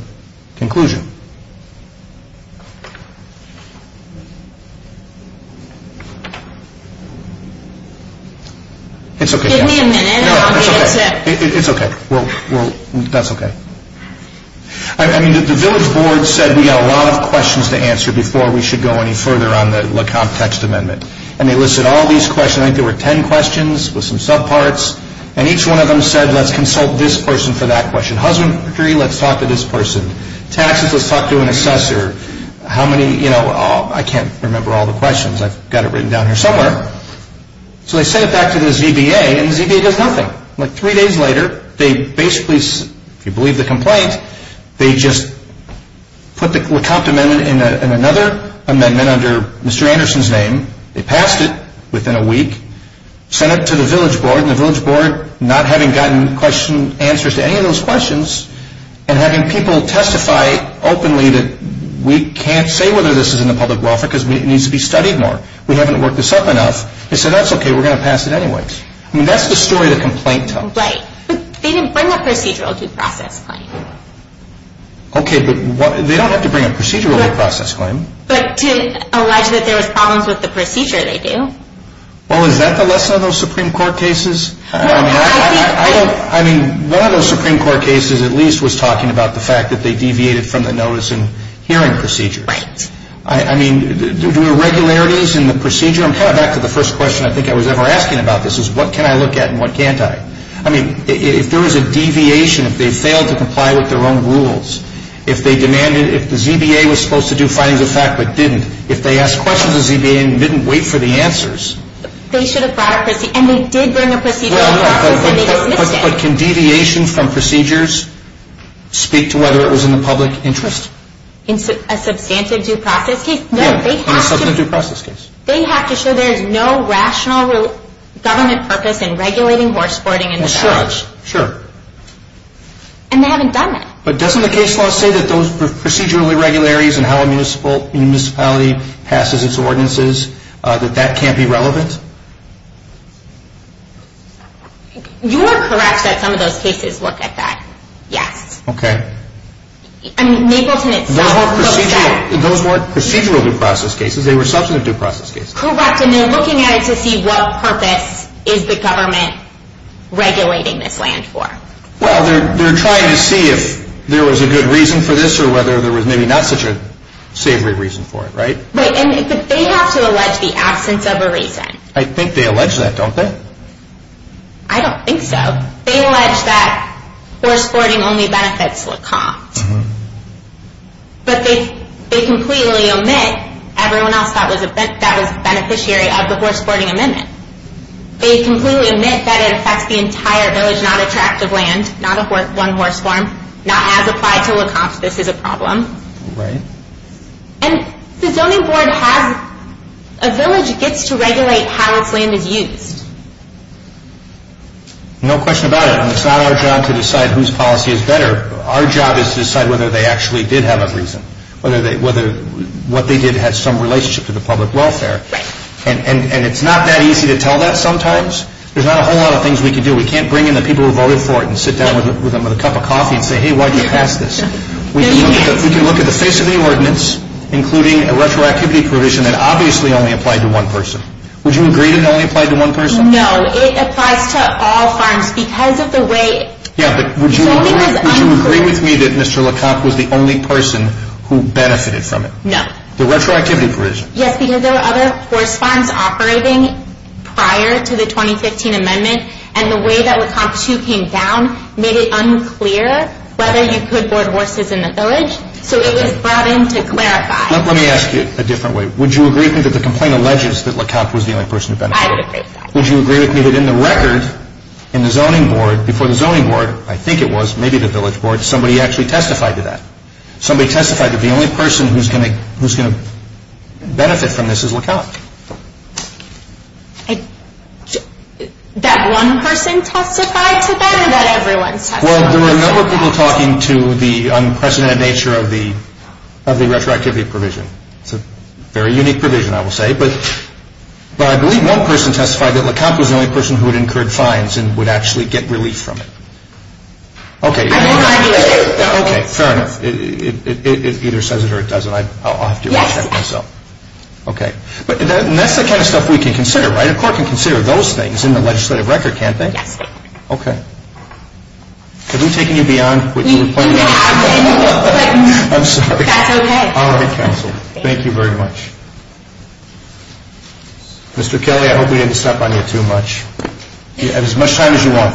conclusion. It's okay. Give me a minute. It's okay. It's okay. That's okay. I mean, the village board said we have a lot of questions to answer before we should go any further on the complex amendment. And they listed all these questions. I think there were ten questions. With some subparts. And each one of them said let's consult this person for that question. Husband, hurry, let's talk to this person. Taxes, let's talk to an assessor. How many, you know, I can't remember all the questions. I've got it written down here somewhere. So they sent it back to the ZBA and the ZBA does nothing. Like three days later, they basically, if you believe the complaint, they just put the comp amendment in another amendment under Mr. Anderson's name. They passed it within a week. Sent it to the village board and the village board, not having gotten answers to any of those questions and having people testify openly that we can't say whether this is in the public welfare because it needs to be studied more. We haven't worked this up enough. They said that's okay. We're going to pass it anyways. I mean, that's the story the complaint tells. Right. But they didn't bring a procedural due process claim. Okay, but they don't have to bring a procedural due process claim. But to allege that there was problems with the procedure they do. Well, is that the lesson of those Supreme Court cases? I mean, one of those Supreme Court cases at least was talking about the fact that they deviated from the notice and hearing procedures. Right. I mean, the irregularities in the procedure, and coming back to the first question I think I was ever asked about this, is what can I look at and what can't I? I mean, if there was a deviation, if they failed to comply with their own rules, if they demanded, if the ZBA was supposed to do findings of fact but didn't, if they asked questions of the ZBA and didn't wait for the answers. They should have brought a procedural due process case. And they did bring a procedural due process case. But can deviation from procedures speak to whether it was in the public interest? In a substantive due process case? No. In a substantive due process case. They have to show there is no rational government purpose in regulating horse boarding. That's true. Sure. And they haven't done that. But doesn't the case law say that those procedural irregularities and how a municipality passes its ordinances, that that can't be relevant? You are correct that some of those cases look like that. Yeah. Okay. I mean, Naples and its... Those weren't procedural due process cases. They were substantive due process cases. Correct. And they're looking at it to see what purpose is the government regulating this land for. Well, they're trying to see if there was a good reason for this or whether there was maybe not such a savory reason for it, right? Right. And they have to allege the absence of a reason. I think they allege that, don't they? I don't think so. They allege that horse boarding only benefits Lecomte. Uh-huh. But they completely omit everyone else that was a beneficiary of the horse boarding amendment. They completely omit that it affects the entire village, not a tract of land, not one horse farm, not as applied to Lecomte. This is a problem. Right. And the zoning board has... A village gets to regulate how the land is used. No question about it. And it's not our job to decide whose policy is better. Our job is to decide whether they actually did have a reason, whether what they did had some relationship to the public welfare. Right. And it's not that easy to tell that sometimes. There's not a whole lot of things we can do. We can't bring in the people who voted for it and sit down with them with a cup of coffee and say, hey, why did you pass this? We can look at the face of the ordinance, including a retroactivity provision that obviously only applied to one person. Would you agree that it only applied to one person? No, it applies to all farms because of the way... Yeah, but would you agree with me that Mr. Lecomte was the only person who benefited from it? No. The retroactivity provision. Yes, because there were other horse farms operating prior to the 2015 amendment, and the way that Lecomte 2 came down made it unclear whether you put more horses in the village, so it was brought in to clarify. Let me ask you a different way. Would you agree with me that the complaint alleges that Lecomte was the only person who benefited from it? I would agree with that. Would you agree with me that in the record, in the zoning board, before the zoning board, I think it was, maybe the village board, somebody actually testified to that? Somebody testified that the only person who's going to benefit from this is Lecomte. That one person testified to that, or did everyone testify to that? Well, there were a number of people talking to the unprecedented nature of the retroactivity provision. It's a very unique provision, I will say, but I believe one person testified that Lecomte was the only person who would incur clients and would actually get relief from it. Okay, fair enough. It either says it or it doesn't. Okay. And that's the kind of stuff we can consider, right? Of course we consider those things in the legislative record, can't we? Okay. Are you taking it beyond what you were told? I'm sorry. All right, counsel. Thank you very much. Mr. Kelly, I hope we didn't stop on you too much. You have as much time as you want.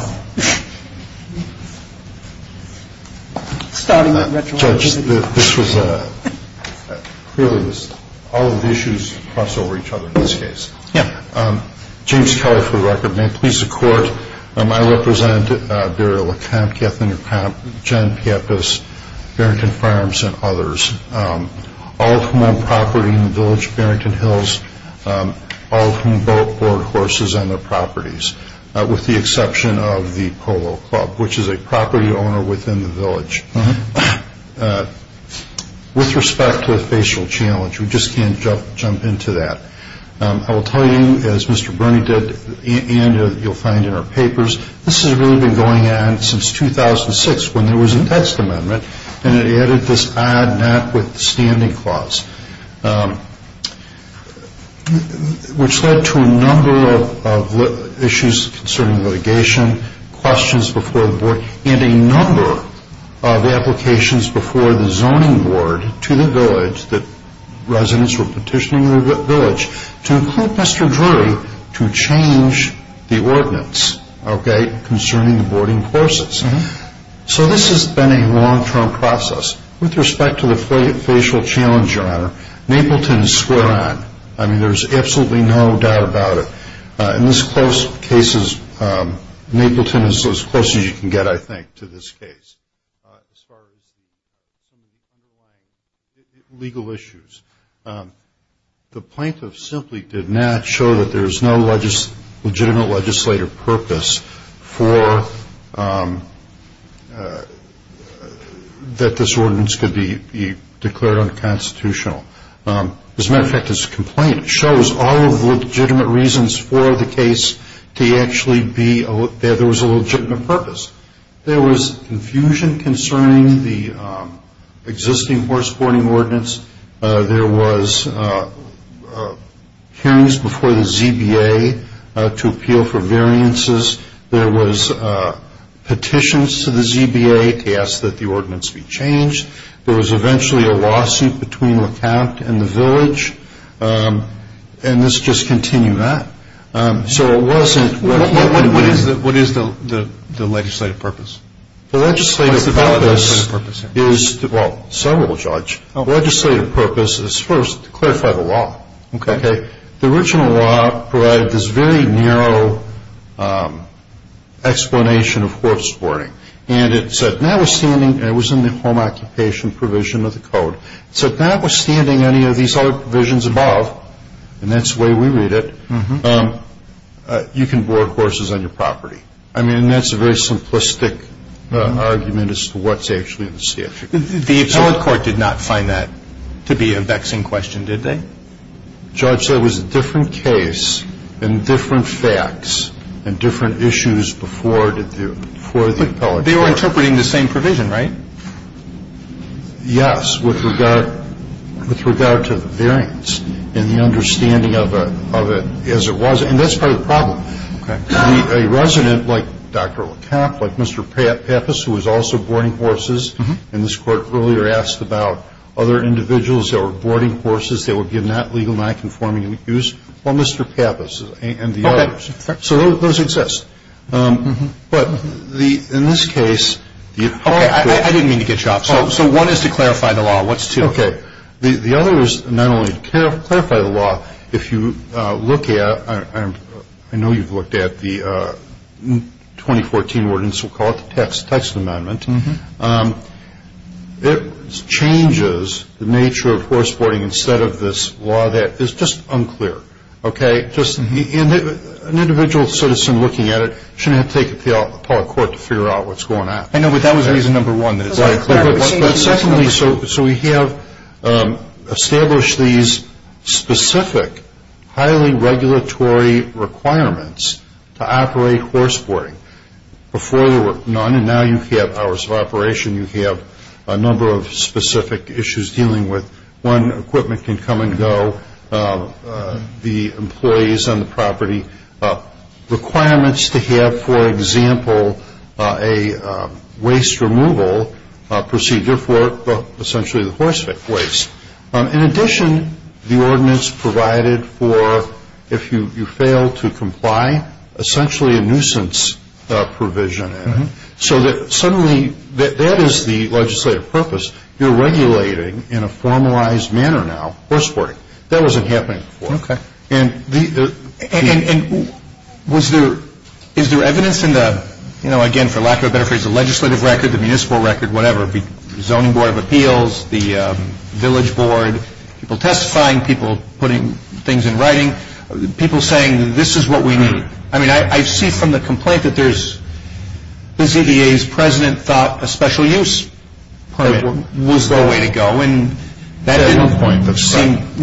Starting with retroactivity. This was clearly all of the issues crossed over each other in this case. Yeah. James Kelly for the record. May it please the Court, I represent Burial Camp, Kaplan Camp, John Piafas, Barrington Farms, and others, all from on property in the village of Barrington Hills, all from boat, board, horses, and their properties, with the exception of the Polo Club, which is a property owner within the village. With respect to the facial challenge, we just can't jump into that. I will tell you, as Mr. Burnett did, and you'll find in our papers, this has really been going on since 2006 when there was a text amendment, and it added this odd notwithstanding clause, which led to a number of issues concerning litigation, questions before the board, and a number of applications before the zoning board to the village, that residents were petitioning the village to include Mr. Drury to change the ordinance concerning boarding horses. So this has been a long-term process. With respect to the facial challenge, Your Honor, Mapleton is square on. I mean, there's absolutely no doubt about it. In these close cases, Mapleton is as close as you can get, I think, to this case. Legal issues. The plaintiff simply did not show that there's no legitimate legislative purpose for that this ordinance could be declared unconstitutional. As a matter of fact, this complaint shows all of the legitimate reasons for the case to actually be that there was a legitimate purpose. There was confusion concerning the existing horse boarding ordinance. There was hearings before the ZBA to appeal for variances. There was petitions to the ZBA to ask that the ordinance be changed. There was eventually a lawsuit between LeCount and the village. And let's just continue that. So it wasn't... What is the legislative purpose? The legislative purpose is... Well, several, Judge. The legislative purpose is, first, to clarify the law. Okay. The original law provided this very narrow explanation of horse boarding. And it said, notwithstanding... And it was in the Home Occupation Provision of the Code. It said, notwithstanding any of these other provisions above, and that's the way we read it, you can board horses on your property. I mean, that's a very simplistic argument as to what's actually in the statute. The Attorney's Court did not find that to be a vexing question, did they? Judge, there was a different case and different facts and different issues before the appellate court. But they were interpreting the same provision, right? Yes, with regard to the variance and the understanding of it as it was. And that's part of the problem. A resident like Dr. LeCount, like Mr. Pappas, who was also boarding horses in this court, earlier asked about other individuals that were boarding horses that would be not legal, not conforming, or misused. Well, Mr. Pappas and the others. So those exist. But in this case... Oh, I didn't mean to get you off. So one is to clarify the law. Okay. The other is not only to clarify the law, if you look at... I know you've looked at the 2014 ordinance, we'll call it the Texas Amendment. It changes the nature of horse boarding instead of this law that is just unclear. Okay? Just an individual sort of looking at it shouldn't have to take the appellate court to figure out what's going on. I know, but that was reason number one that it's unclear. But secondly, so we have established these specific, highly regulatory requirements to operate horse boarding. Before there were none, and now you can have hours of operation. You can have a number of specific issues dealing with when equipment can come and go, the employees on the property. Requirements to have, for example, a waste removal procedure for essentially the horse waste. In addition, the ordinance provided for if you fail to comply, essentially a nuisance provision. So that suddenly, that is the legislative purpose. You're regulating, in a formalized manner now, horse boarding. That wasn't happening before. Okay. And was there... Is there evidence in the... You know, again, for lack of a better phrase, the legislative record, the municipal record, whatever, zoning board of appeals, the village board, people testifying, people putting things in writing, people saying, this is what we need. I mean, I see from the complaint that there's... NCDA's president thought a special use was the way to go, and... That is the point.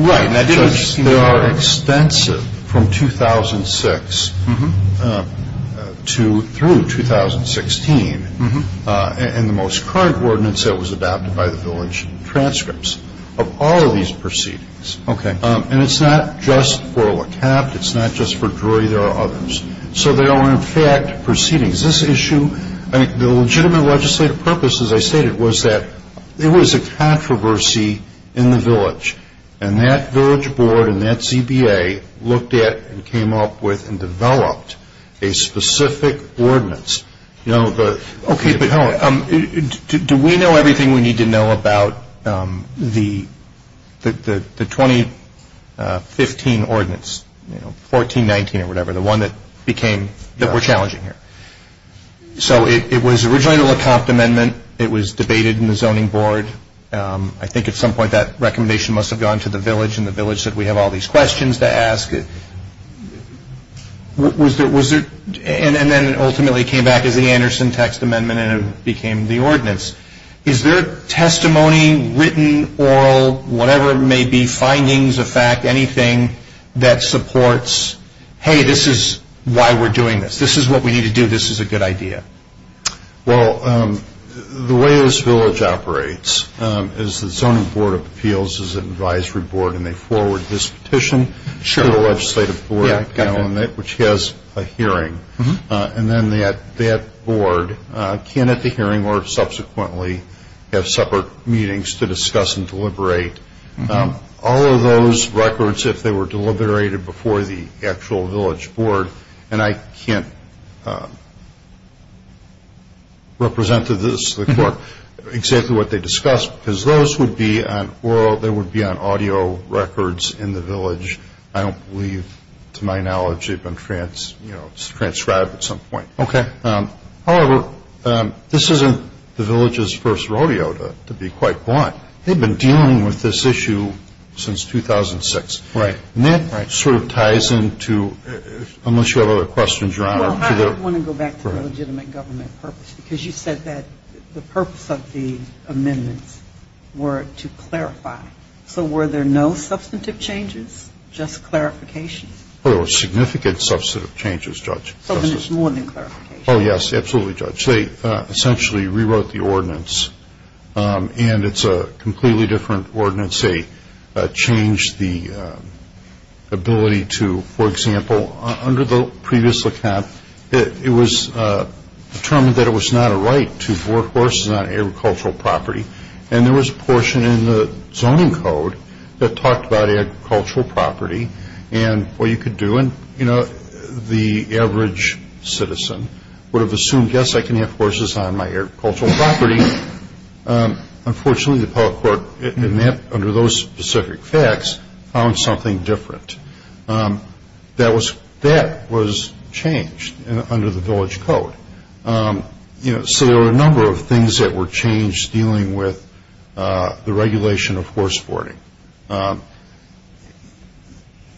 Right, and I did understand that. There are extensive, from 2006 through 2016, in the most current ordinance that was adopted by the village transcripts, of all of these proceedings. Okay. And it's not just for LeCap. It's not just for Drury. There are others. So there are, in fact, proceedings. This issue, the legitimate legislative purpose, as I stated, was that there was a controversy in the village, and that village board and that CBA looked at and came up with and developed a specific ordinance. You know, but... Okay, but how... Do we know everything we need to know about the 2015 ordinance? You know, 1419 or whatever, the one that became, that we're challenging here. So it was originally the LeCap amendment. It was debated in the zoning board. I think at some point that recommendation must have gone to the village, and the village said, we have all these questions to ask. Was there... And then it ultimately came back as the Anderson text amendment, and it became the ordinance. Is there testimony, written, oral, whatever it may be, findings, a fact, anything that supports, hey, this is why we're doing this. This is what we need to do. This is a good idea. Well, the way this village operates is the zoning board of appeals is an advisory board, and they forward this petition to the legislative board, which has a hearing, and then that board can, at the hearing or subsequently have separate meetings to discuss and deliberate. All of those records, if they were deliberated before the actual village board, and I can't represent to this report exactly what they discussed, because those would be on oral, they would be on audio records in the village. I don't believe, to my knowledge, they've been transcribed at some point. Okay. However, this isn't the village's first rodeo, to be quite blunt. They've been dealing with this issue since 2006. Right. And that sort of ties into, unless you have other questions, Your Honor. Well, I just want to go back to the legitimate government purpose, because you said that the purpose of the amendments were to clarify. So were there no substantive changes, just clarifications? There were significant substantive changes, Judge. Oh, yes, absolutely, Judge. They essentially rewrote the ordinance, and it's a completely different ordinance. They changed the ability to, for example, under the previous account, it was determined that it was not a right to work horses on agricultural property, and there was a portion in the zoning code that talked about agricultural property and what you could do, and the average citizen would have assumed, yes, I can have horses on my agricultural property. Unfortunately, the public court, under those specific facts, found something different. That was changed under the village code. So there were a number of things that were changed dealing with the regulation of horse boarding.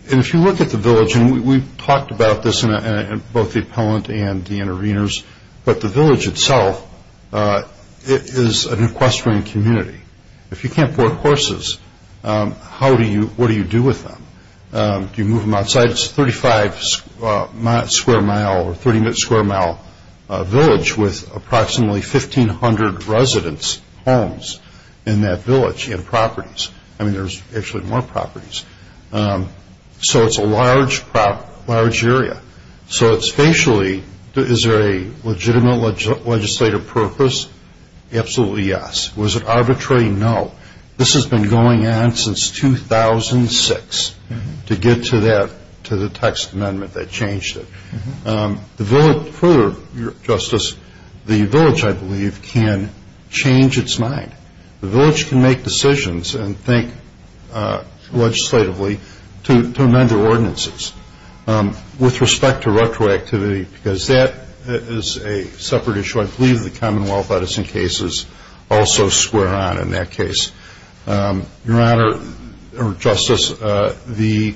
And if you look at the village, and we've talked about this in both the appellant and the interveners, but the village itself is an equestrian community. If you can't board horses, what do you do with them? Do you move them outside? It's a 35 square mile or 30 square mile village with approximately 1,500 residence homes in that village and properties. I mean, there's actually more properties. So it's a large area. So spatially, is there a legitimate legislative purpose? Absolutely yes. Was it arbitrary? No. This has been going on since 2006 to get to the text amendment that changed it. The village, for your justice, the village, I believe, can change its mind. The village can make decisions and think legislatively to amend their ordinances. With respect to retroactivity, because that is a separate issue, I believe the Commonwealth Edison cases also square on in that case. Your honor, or justice, the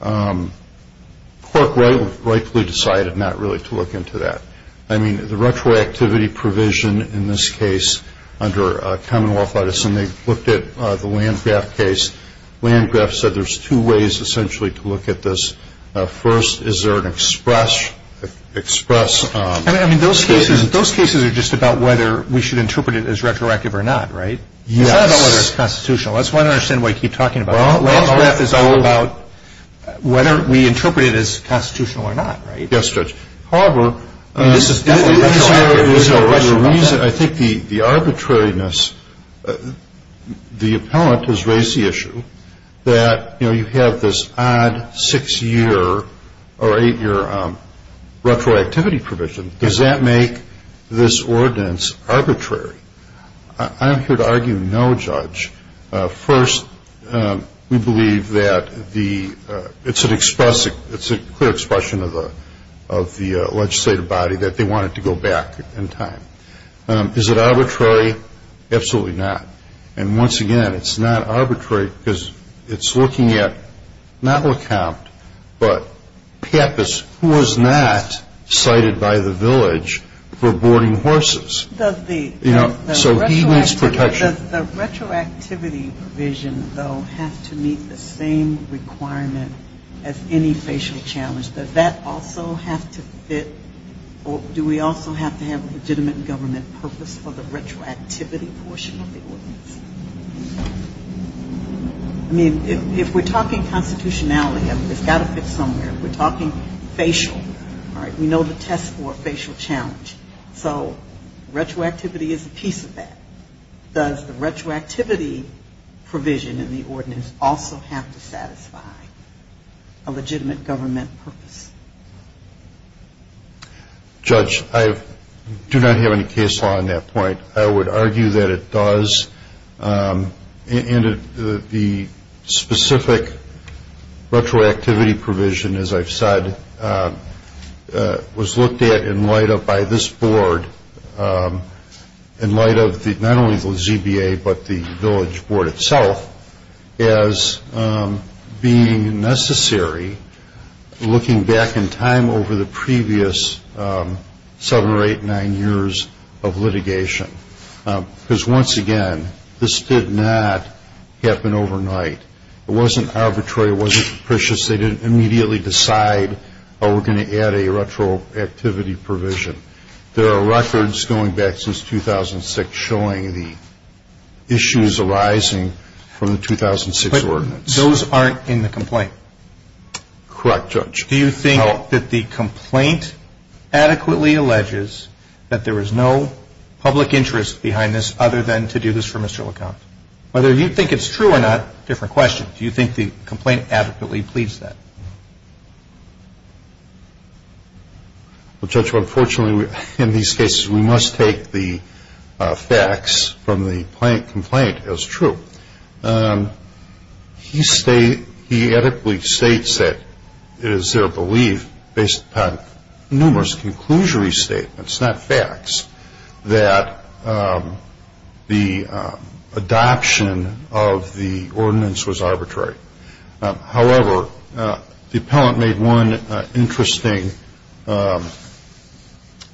court rightfully decided not really to look into that. I mean, the retroactivity provision in this case under Commonwealth Edison, they looked at the Landgraf case. Landgraf said there's two ways essentially to look at this. First, is there an express... I mean, those cases are just about whether we should interpret it as retroactive or not, right? Yes. That's not all that's constitutional. That's why I don't understand what you keep talking about. Landgraf is all about whether we interpret it as constitutional or not, right? Yes, judge. However... I think the arbitrariness... The appellant has raised the issue that you have this odd six-year or eight-year retroactivity provision. Does that make this ordinance arbitrary? I'm here to argue no, judge. First, we believe that the... They want it to go back in time. Is it arbitrary? Absolutely not. And once again, it's not arbitrary because it's looking at not the count, but who was not cited by the village for boarding horses? Does the... So he needs protection. Does the retroactivity provision, though, have to meet the same requirement as any facial challenge? Does that also have to fit... Or do we also have to have a legitimate government purpose for the retroactivity portion of the ordinance? I mean, if we're talking constitutionality, it's got to fit somewhere. If we're talking facial, we know the test for a facial challenge. So retroactivity is a piece of that. Does the retroactivity provision in the ordinance also have to satisfy a legitimate government purpose? Judge, I do not have any case law on that point. I would argue that it does. The specific retroactivity provision, as I've said, in light of not only the ZBA, but the village board itself, is being necessary looking back in time over the previous seven or eight, nine years of litigation. Because once again, this did not happen overnight. It wasn't arbitrary. It wasn't capricious. They didn't immediately decide, oh, we're going to add a retroactivity provision. There are records going back since 2006 showing the issues arising from the 2006 ordinance. Those aren't in the complaint? Correct, Judge. Do you think that the complaint adequately alleges that there is no public interest behind this other than to do this for Mr. LaCount? Whether you think it's true or not, different question. Do you think the complaint adequately pleads that? Well, Judge, unfortunately, in these cases, we must take the facts from the complaint as true. He states, he adequately states that it is their belief, based upon numerous conclusory statements, not facts, that the adoption of the ordinance was arbitrary. However, the appellant made one interesting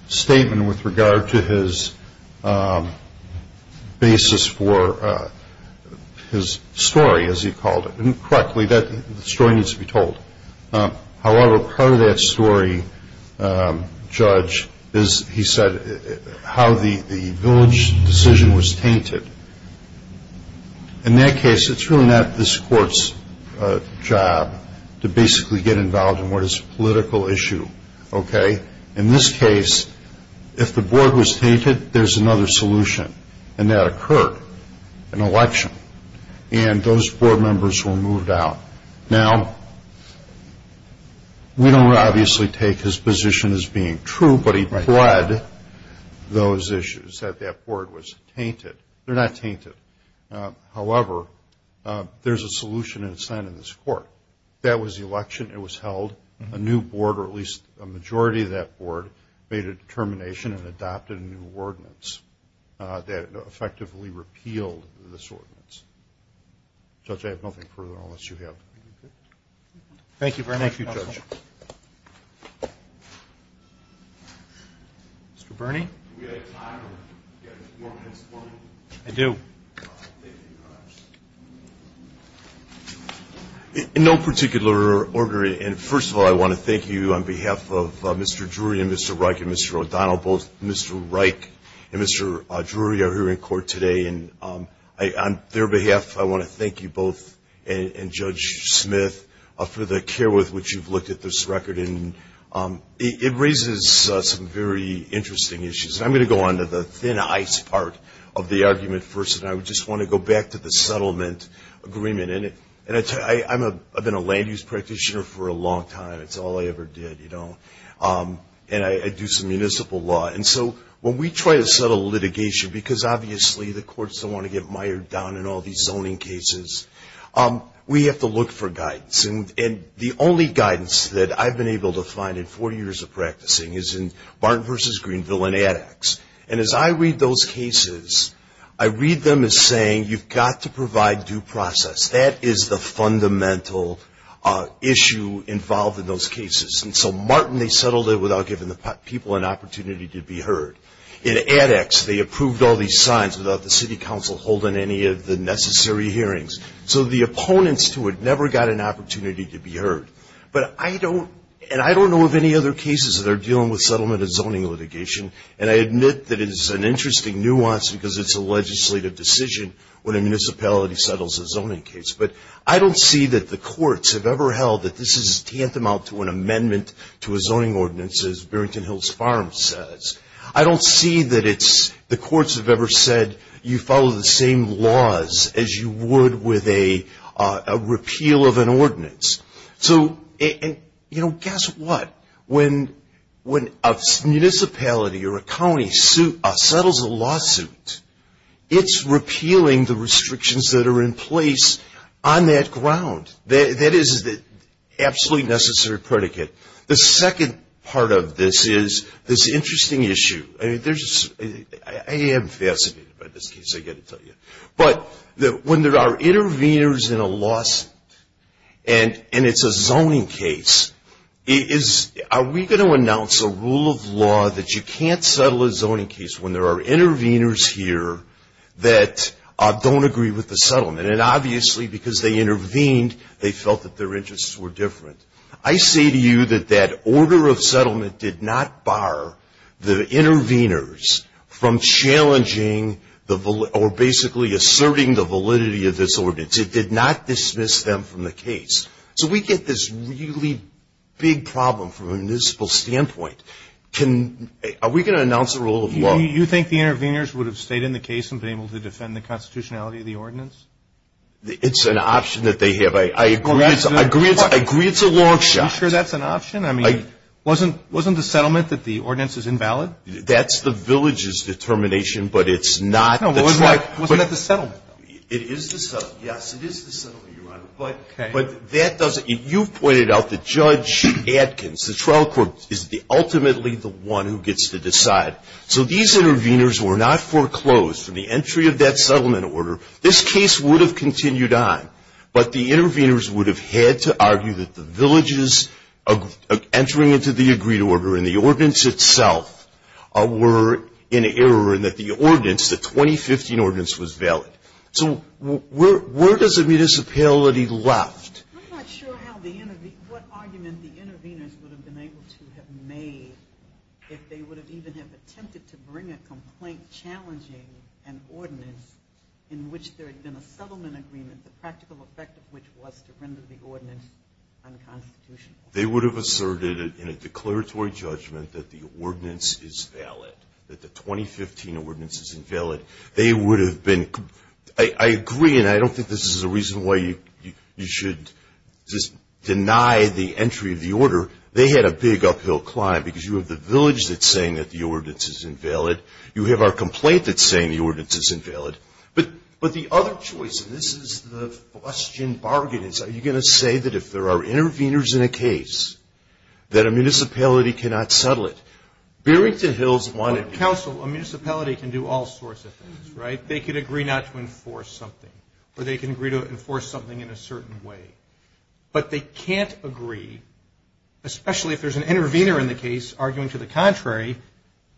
statement with regard to his basis for his story, as he called it. And correctly, that story needs to be told. However, part of that story, Judge, is he said how the village decision was tainted. In that case, it's really not this court's job to basically get involved in what is a political issue. In this case, if the board was tainted, there's another solution, and that occurred, an election. And those board members were moved out. Now, we don't obviously take his position as being true, but he pled those issues, that that board was tainted. They're not tainted. However, there's a solution in this court. That was the election. It was held. A new board, or at least a majority of that board, made a determination and adopted a new ordinance that effectively repealed this ordinance. Judge, I have nothing further on this. Thank you, Bernie. Thank you, Judge. Mr. Bernie? Do we have time? I do. In no particular order, and first of all, I want to thank you on behalf of Mr. Drury and Mr. Reich and Mr. O'Donnell. Both Mr. Reich and Mr. Drury are here in court today. And on their behalf, I want to thank you both and Judge Smith for the care with which you've looked at this record. It raises some very interesting issues. I'm going to go on to the thin ice part of the argument first, and I just want to go back to the settlement agreement. I've been a land use practitioner for a long time. It's all I ever did. I do some municipal law. When we try to settle litigation, because obviously the courts don't want to get mired down in all these zoning cases, we have to look for guidance. And the only guidance that I've been able to find in four years of practicing is in Martin v. Greenville and ADEX. And as I read those cases, I read them as saying, you've got to provide due process. That is the fundamental issue involved in those cases. And so Martin, they settled it without giving the people an opportunity to be heard. In ADEX, they approved all these signs without the city council holding any of the necessary hearings. So the opponents who had never got an opportunity to be heard. And I don't know of any other cases that are dealing with settlement of zoning litigation, and I admit that it is an interesting nuance because it's a legislative decision when a municipality settles a zoning case. But I don't see that the courts have ever held that this is tantamount to an amendment to a zoning ordinance, as Burrington Hills Farms says. I don't see that the courts have ever said, you follow the same laws as you would with a repeal of an ordinance. So, you know, guess what? When a municipality or a county settles a lawsuit, it's repealing the restrictions that are in place on that ground. That is the absolutely necessary predicate. The second part of this is this interesting issue. I am fascinated by this case, I've got to tell you. But when there are interveners in a lawsuit and it's a zoning case, are we going to announce a rule of law that you can't settle a zoning case when there are interveners here that don't agree with the settlement? And obviously because they intervened, they felt that their interests were different. I say to you that that order of settlement did not bar the interveners from challenging or basically asserting the validity of this ordinance. It did not dismiss them from the case. So we get this really big problem from a municipal standpoint. Are we going to announce a rule of law? Do you think the interveners would have stayed in the case and been able to defend the constitutionality of the ordinance? It's an option that they have. I agree it's a long shot. Are you sure that's an option? I mean, wasn't the settlement that the ordinance is invalid? That's the village's determination, but it's not. No, but wasn't that the settlement? It is the settlement, yes, it is the settlement, Your Honor. But that doesn't, you pointed out that Judge Adkins, the trial court, is ultimately the one who gets to decide. So these interveners were not foreclosed from the entry of that settlement order. This case would have continued on, but the interveners would have had to argue that the village's entry into the agreed order and the ordinance itself were in error and that the ordinance, the 2015 ordinance, was valid. So where does the municipality left? I'm not sure what argument the interveners would have been able to have made if they would have even attempted to bring a complaint challenging an ordinance in which there had been a settlement agreement, the practical effect of which was to render the ordinance They would have asserted in a declaratory judgment that the ordinance is valid, that the 2015 ordinance is invalid. They would have been, I agree, and I don't think this is a reason why you should just deny the entry of the order. They had a big uphill climb because you have the village that's saying that the ordinance is invalid. You have our complaint that's saying the ordinance is invalid. But the other choice, and this is the question, are you going to say that if there are interveners in a case that a municipality cannot settle it? Beerington Hills wanted... A council, a municipality can do all sorts of things, right? They can agree not to enforce something or they can agree to enforce something in a certain way. But they can't agree, especially if there's an intervener in the case, arguing to the contrary,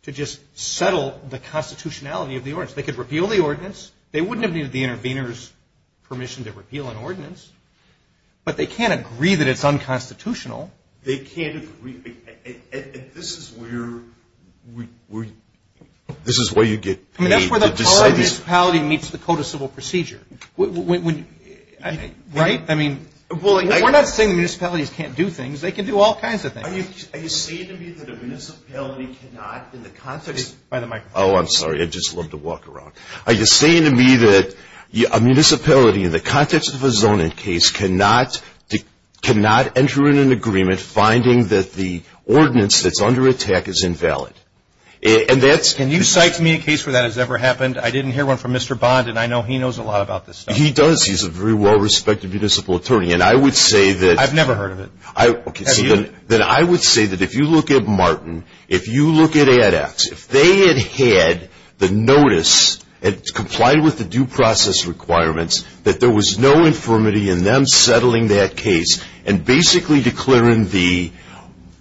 to just settle the constitutionality of the ordinance. They could repeal the ordinance. They wouldn't have needed the intervener's permission to repeal an ordinance. But they can't agree that it's unconstitutional. They can't agree. And this is where you get... That's where the municipality meets the code of civil procedure. Right? We're not saying municipalities can't do things. They can do all kinds of things. Are you saying to me that a municipality cannot... Oh, I'm sorry. I just love to walk around. Are you saying to me that a municipality in the context of a zoning case cannot enter in an agreement finding that the ordinance that's under attack is invalid? And that's... Can you cite to me a case where that has ever happened? I didn't hear one from Mr. Bond, and I know he knows a lot about this stuff. He does. He's a very well-respected municipal attorney. And I would say that... I've never heard of it. Then I would say that if you look at Martin, if you look at ADAPT, if they had had the notice and complied with the due process requirements that there was no infirmity in them settling that case and basically declaring the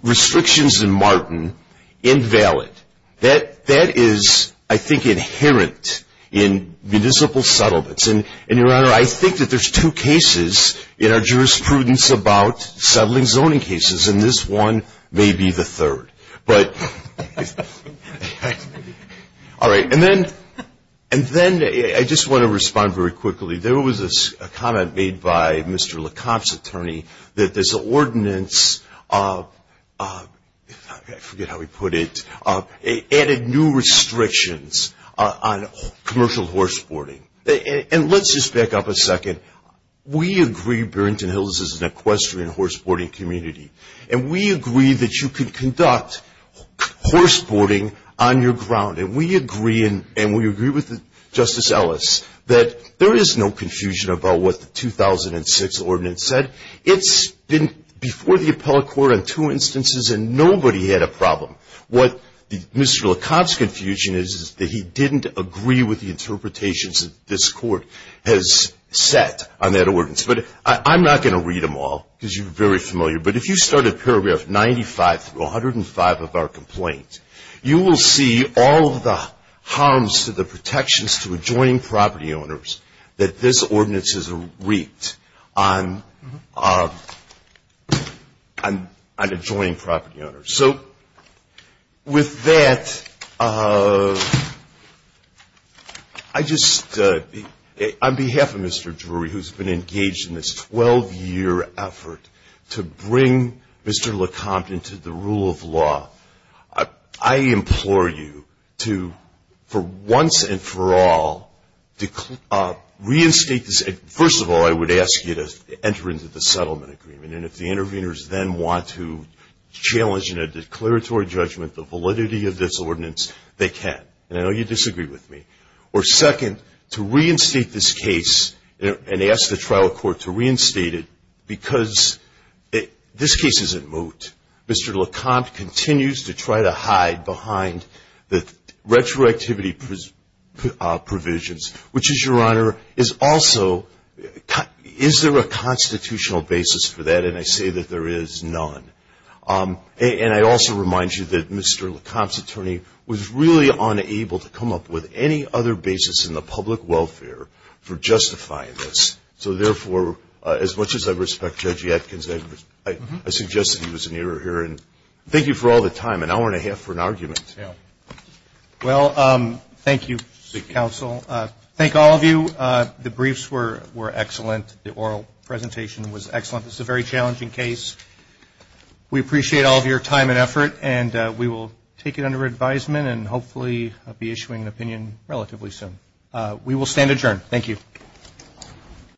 restrictions in Martin invalid, that is, I think, inherent in municipal settlements. And, Your Honor, I think that there's two cases in our jurisprudence about settling zoning cases, and this one may be the third. But... All right. And then I just want to respond very quickly. There was a comment made by Mr. Lecomte's attorney that this ordinance of... I forget how he put it. It added new restrictions on commercial horseboarding. And let's just back up a second. We agree Burrington Hills is an equestrian horseboarding community, and we agree that you can conduct horseboarding on your ground. And we agree, and we agree with Justice Ellis, that there is no confusion about what the 2006 ordinance said. It's been before the appellate court on two instances, and nobody had a problem. What Mr. Lecomte's confusion is that he didn't agree with the interpretations that this court has set on that ordinance. But I'm not going to read them all because you're very familiar. But if you start at paragraph 95 through 105 of our complaint, you will see all of the harms to the protections to adjoining property owners that this ordinance has wreaked on adjoining property owners. So with that, I just... Mr. Drury, who's been engaged in this 12-year effort to bring Mr. Lecomte into the rule of law, I implore you to, for once and for all, reinstate this... First of all, I would ask you to enter into the settlement agreement. And if the interveners then want to challenge in a declaratory judgment the validity of this ordinance, they can. I know you disagree with me. Or second, to reinstate this case and ask the trial court to reinstate it because this case is at moot. Mr. Lecomte continues to try to hide behind the retroactivity provisions, which is, Your Honor, is also... Is there a constitutional basis for that? And I say that there is none. And I also remind you that Mr. Lecomte's attorney was really unable to come up with any other basis in the public welfare for justifying this. So therefore, as much as I respect Judge Atkins, I suggest that he was an error here. And thank you for all the time, an hour and a half for an argument. Well, thank you, Counsel. Thank all of you. The briefs were excellent. The oral presentation was excellent. This is a very challenging case. We appreciate all of your time and effort. And we will take it under advisement and hopefully be issuing an opinion relatively soon. We will stand adjourned. Thank you.